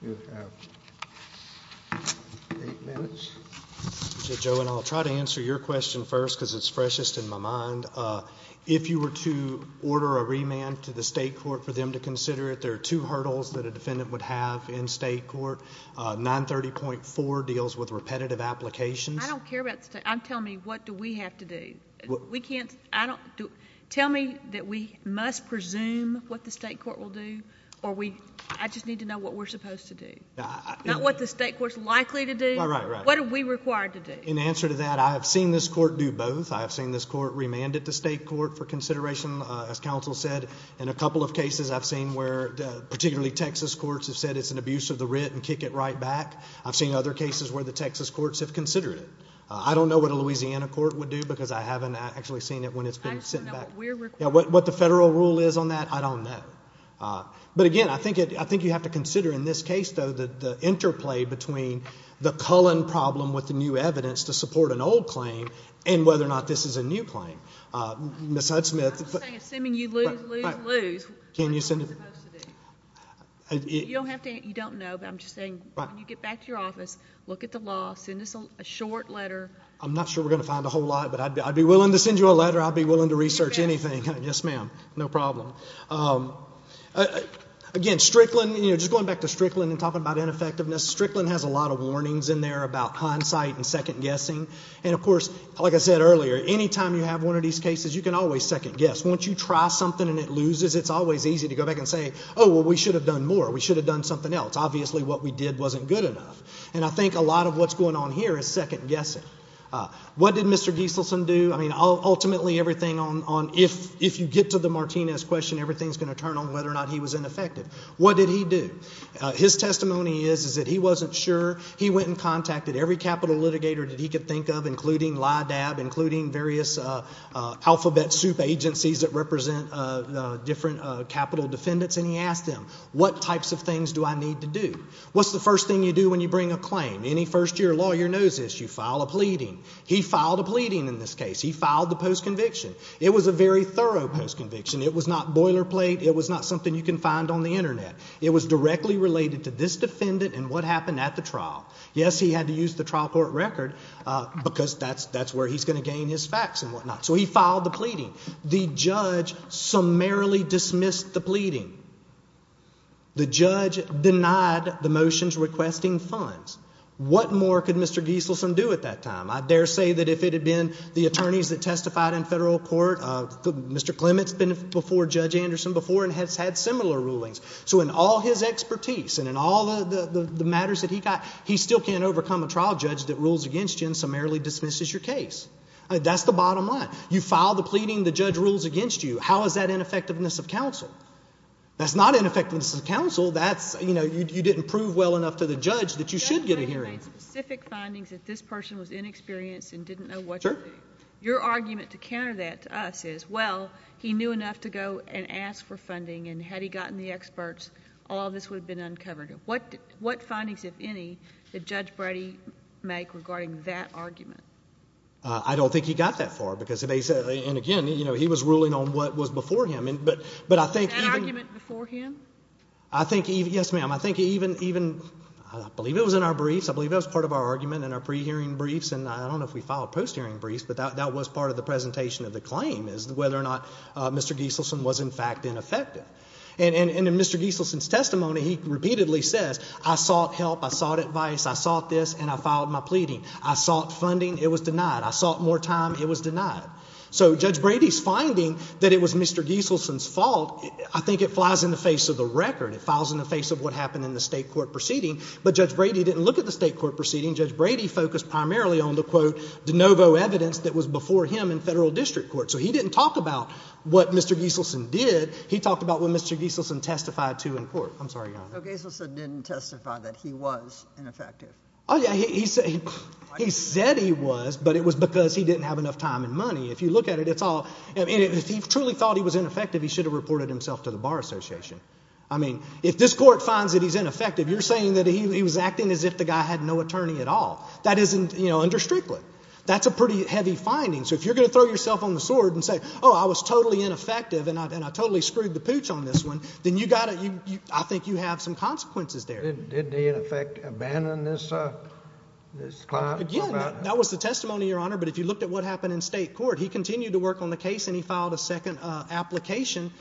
you have eight minutes. Joe, and I'll try to answer your question first because it's freshest in my mind. If you were to order a remand to the state court for them to consider it, there are two hurdles that a defendant would have in state court. 930.4 deals with repetitive applications. I don't care about the state. Tell me what do we have to do. Tell me that we must presume what the state court will do, or I just need to know what we're supposed to do. Not what the state court is likely to do. Right, right. What are we required to do? In answer to that, I have seen this court do both. I have seen this court remand it to state court for consideration, as counsel said. In a couple of cases I've seen where particularly Texas courts have said it's an abuse of the writ and kick it right back. I've seen other cases where the Texas courts have considered it. I don't know what a Louisiana court would do because I haven't actually seen it when it's been sent back. What the federal rule is on that, I don't know. But, again, I think you have to consider in this case, though, the interplay between the Cullen problem with the new evidence to support an old claim and whether or not this is a new claim. Ms. Hudsmith. I'm just saying, assuming you lose, lose, lose, what are you supposed to do? You don't have to answer. You don't know, but I'm just saying when you get back to your office, look at the law, send us a short letter. I'm not sure we're going to find a whole lot, but I'd be willing to send you a letter. I'd be willing to research anything. Yes, ma'am. No problem. Again, Strickland, just going back to Strickland and talking about ineffectiveness, Strickland has a lot of warnings in there about hindsight and second guessing. And, of course, like I said earlier, any time you have one of these cases, you can always second guess. Once you try something and it loses, it's always easy to go back and say, oh, well, we should have done more. We should have done something else. Obviously what we did wasn't good enough. And I think a lot of what's going on here is second guessing. What did Mr. Gieselson do? I mean, ultimately everything on if you get to the Martinez question, everything's going to turn on whether or not he was ineffective. What did he do? His testimony is that he wasn't sure. He went and contacted every capital litigator that he could think of, including LIDAB, including various alphabet soup agencies that represent different capital defendants, and he asked them, what types of things do I need to do? What's the first thing you do when you bring a claim? Any first-year lawyer knows this. You file a pleading. He filed a pleading in this case. He filed the post-conviction. It was a very thorough post-conviction. It was not boilerplate. It was not something you can find on the Internet. It was directly related to this defendant and what happened at the trial. Yes, he had to use the trial court record because that's where he's going to gain his facts and whatnot. So he filed the pleading. The judge summarily dismissed the pleading. The judge denied the motions requesting funds. What more could Mr. Gieselson do at that time? I dare say that if it had been the attorneys that testified in federal court, Mr. Clement's been before Judge Anderson before and has had similar rulings. So in all his expertise and in all the matters that he got, he still can't overcome a trial judge that rules against you and summarily dismisses your case. That's the bottom line. You file the pleading. The judge rules against you. How is that in effectiveness of counsel? That's not in effectiveness of counsel. That's, you know, you didn't prove well enough to the judge that you should get a hearing. The judge might have made specific findings that this person was inexperienced and didn't know what to do. Your argument to counter that to us is, well, he knew enough to go and ask for funding, and had he gotten the experts, all of this would have been uncovered. What findings, if any, did Judge Brady make regarding that argument? I don't think he got that far because, again, he was ruling on what was before him. Was that argument before him? Yes, ma'am. I think even, I believe it was in our briefs. I believe that was part of our argument in our pre-hearing briefs, and I don't know if we filed post-hearing briefs, but that was part of the presentation of the claim is whether or not Mr. Gieselson was, in fact, ineffective. And in Mr. Gieselson's testimony, he repeatedly says, I sought help, I sought advice, I sought this, and I filed my pleading. I sought funding. It was denied. I sought more time. It was denied. So Judge Brady's finding that it was Mr. Gieselson's fault, I think it flies in the face of the record. It falls in the face of what happened in the state court proceeding. But Judge Brady didn't look at the state court proceeding. Judge Brady focused primarily on the, quote, de novo evidence that was before him in federal district court. So he didn't talk about what Mr. Gieselson did. He talked about what Mr. Gieselson testified to in court. I'm sorry, Your Honor. So Gieselson didn't testify that he was ineffective. Oh, yeah. He said he was, but it was because he didn't have enough time and money. If you look at it, it's all, if he truly thought he was ineffective, he should have reported himself to the Bar Association. I mean, if this court finds that he's ineffective, you're saying that he was acting as if the guy had no attorney at all. That isn't, you know, under Strickland. That's a pretty heavy finding. So if you're going to throw yourself on the sword and say, oh, I was totally ineffective and I totally screwed the pooch on this one, then you got to, I think you have some consequences there. Didn't he, in effect, abandon this client? Again, that was the testimony, Your Honor, but if you looked at what happened in state court, he continued to work on the case and he filed a second application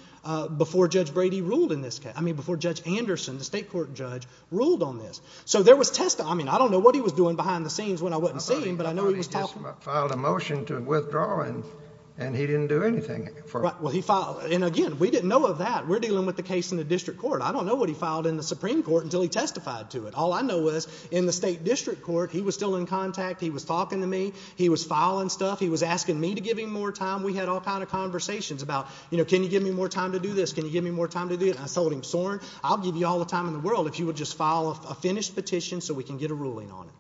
before Judge Brady ruled in this case, I mean before Judge Anderson, the state court judge, ruled on this. So there was testimony. I mean, I don't know what he was doing behind the scenes when I wasn't seeing him, but I know he was talking. I thought he just filed a motion to withdraw and he didn't do anything. Well, he filed, and again, we didn't know of that. We're dealing with the case in the district court. I don't know what he filed in the Supreme Court until he testified to it. All I know was in the state district court, he was still in contact. He was talking to me. He was filing stuff. He was asking me to give him more time. We had all kinds of conversations about, you know, can you give me more time to do this? Can you give me more time to do this? I told him, Soren, I'll give you all the time in the world if you would just file a finished petition so we can get a ruling on it.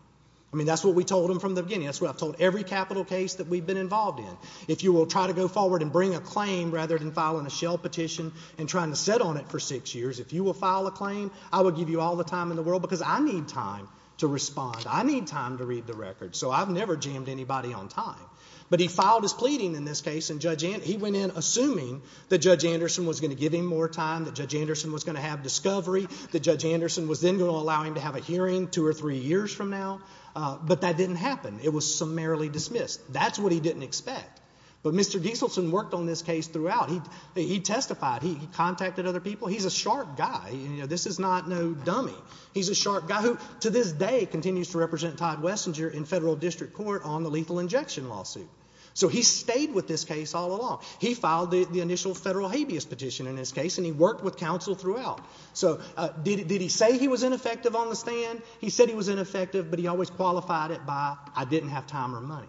I mean that's what we told him from the beginning. That's what I've told every capital case that we've been involved in. If you will try to go forward and bring a claim rather than filing a shell petition and trying to sit on it for six years, if you will file a claim, I will give you all the time in the world because I need time to respond. I need time to read the record. So I've never jammed anybody on time. But he filed his pleading in this case and he went in assuming that Judge Anderson was going to give him more time, that Judge Anderson was going to have discovery, that Judge Anderson was then going to allow him to have a hearing two or three years from now. But that didn't happen. It was summarily dismissed. That's what he didn't expect. But Mr. Gieselson worked on this case throughout. He testified. He contacted other people. He's a sharp guy. You know, this is not no dummy. He's a sharp guy who to this day continues to represent Todd Wessinger in federal district court on the lethal injection lawsuit. So he stayed with this case all along. He filed the initial federal habeas petition in this case and he worked with counsel throughout. So did he say he was ineffective on the stand? He said he was ineffective, but he always qualified it by I didn't have time or money.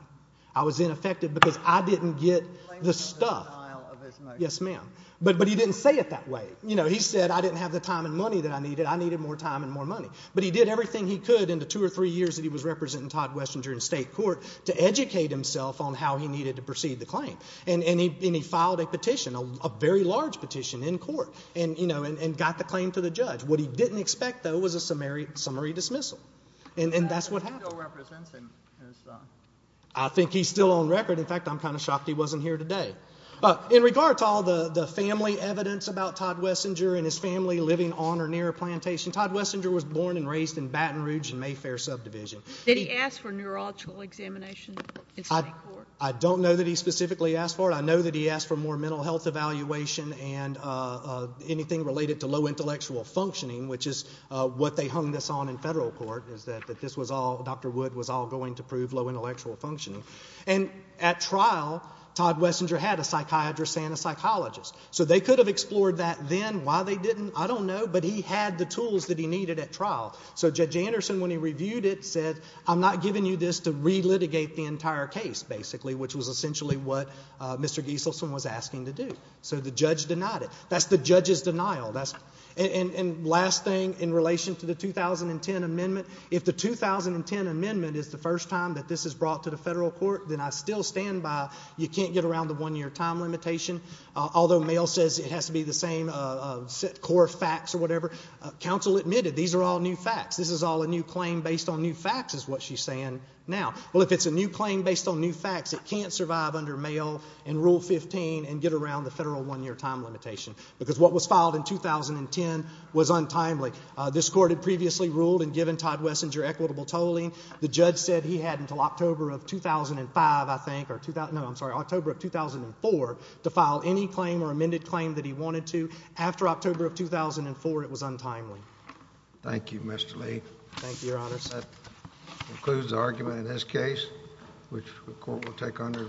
I was ineffective because I didn't get the stuff. Yes, ma'am. But he didn't say it that way. You know, he said I didn't have the time and money that I needed. I needed more time and more money. But he did everything he could in the two or three years that he was representing Todd Wessinger in state court to educate himself on how he needed to proceed the claim. And he filed a petition, a very large petition in court, and got the claim to the judge. What he didn't expect, though, was a summary dismissal. And that's what happened. He still represents him. I think he's still on record. In fact, I'm kind of shocked he wasn't here today. In regard to all the family evidence about Todd Wessinger and his family living on or near a plantation, Todd Wessinger was born and raised in Baton Rouge and Mayfair subdivision. Did he ask for neurological examination in state court? I don't know that he specifically asked for it. I know that he asked for more mental health evaluation and anything related to low intellectual functioning, which is what they hung this on in federal court is that this was all, Dr. Wood was all going to prove low intellectual functioning. And at trial, Todd Wessinger had a psychiatrist and a psychologist. So they could have explored that then. Why they didn't, I don't know. But he had the tools that he needed at trial. So Judge Anderson, when he reviewed it, said, I'm not giving you this to relitigate the entire case, basically, which was essentially what Mr. Gieselson was asking to do. So the judge denied it. That's the judge's denial. And last thing in relation to the 2010 amendment, if the 2010 amendment is the first time that this is brought to the federal court, then I still stand by you can't get around the one-year time limitation. Although Mayo says it has to be the same core facts or whatever, counsel admitted these are all new facts. This is all a new claim based on new facts is what she's saying now. Well, if it's a new claim based on new facts, it can't survive under Mayo and Rule 15 and get around the federal one-year time limitation, because what was filed in 2010 was untimely. This court had previously ruled and given Todd Wessinger equitable tolling. The judge said he had until October of 2005, I think, or 2000—no, I'm sorry, October of 2004 to file any claim or amended claim that he wanted to. After October of 2004, it was untimely. Thank you, Mr. Lee. Thank you, Your Honors. That concludes the argument in this case, which the court will take under its own.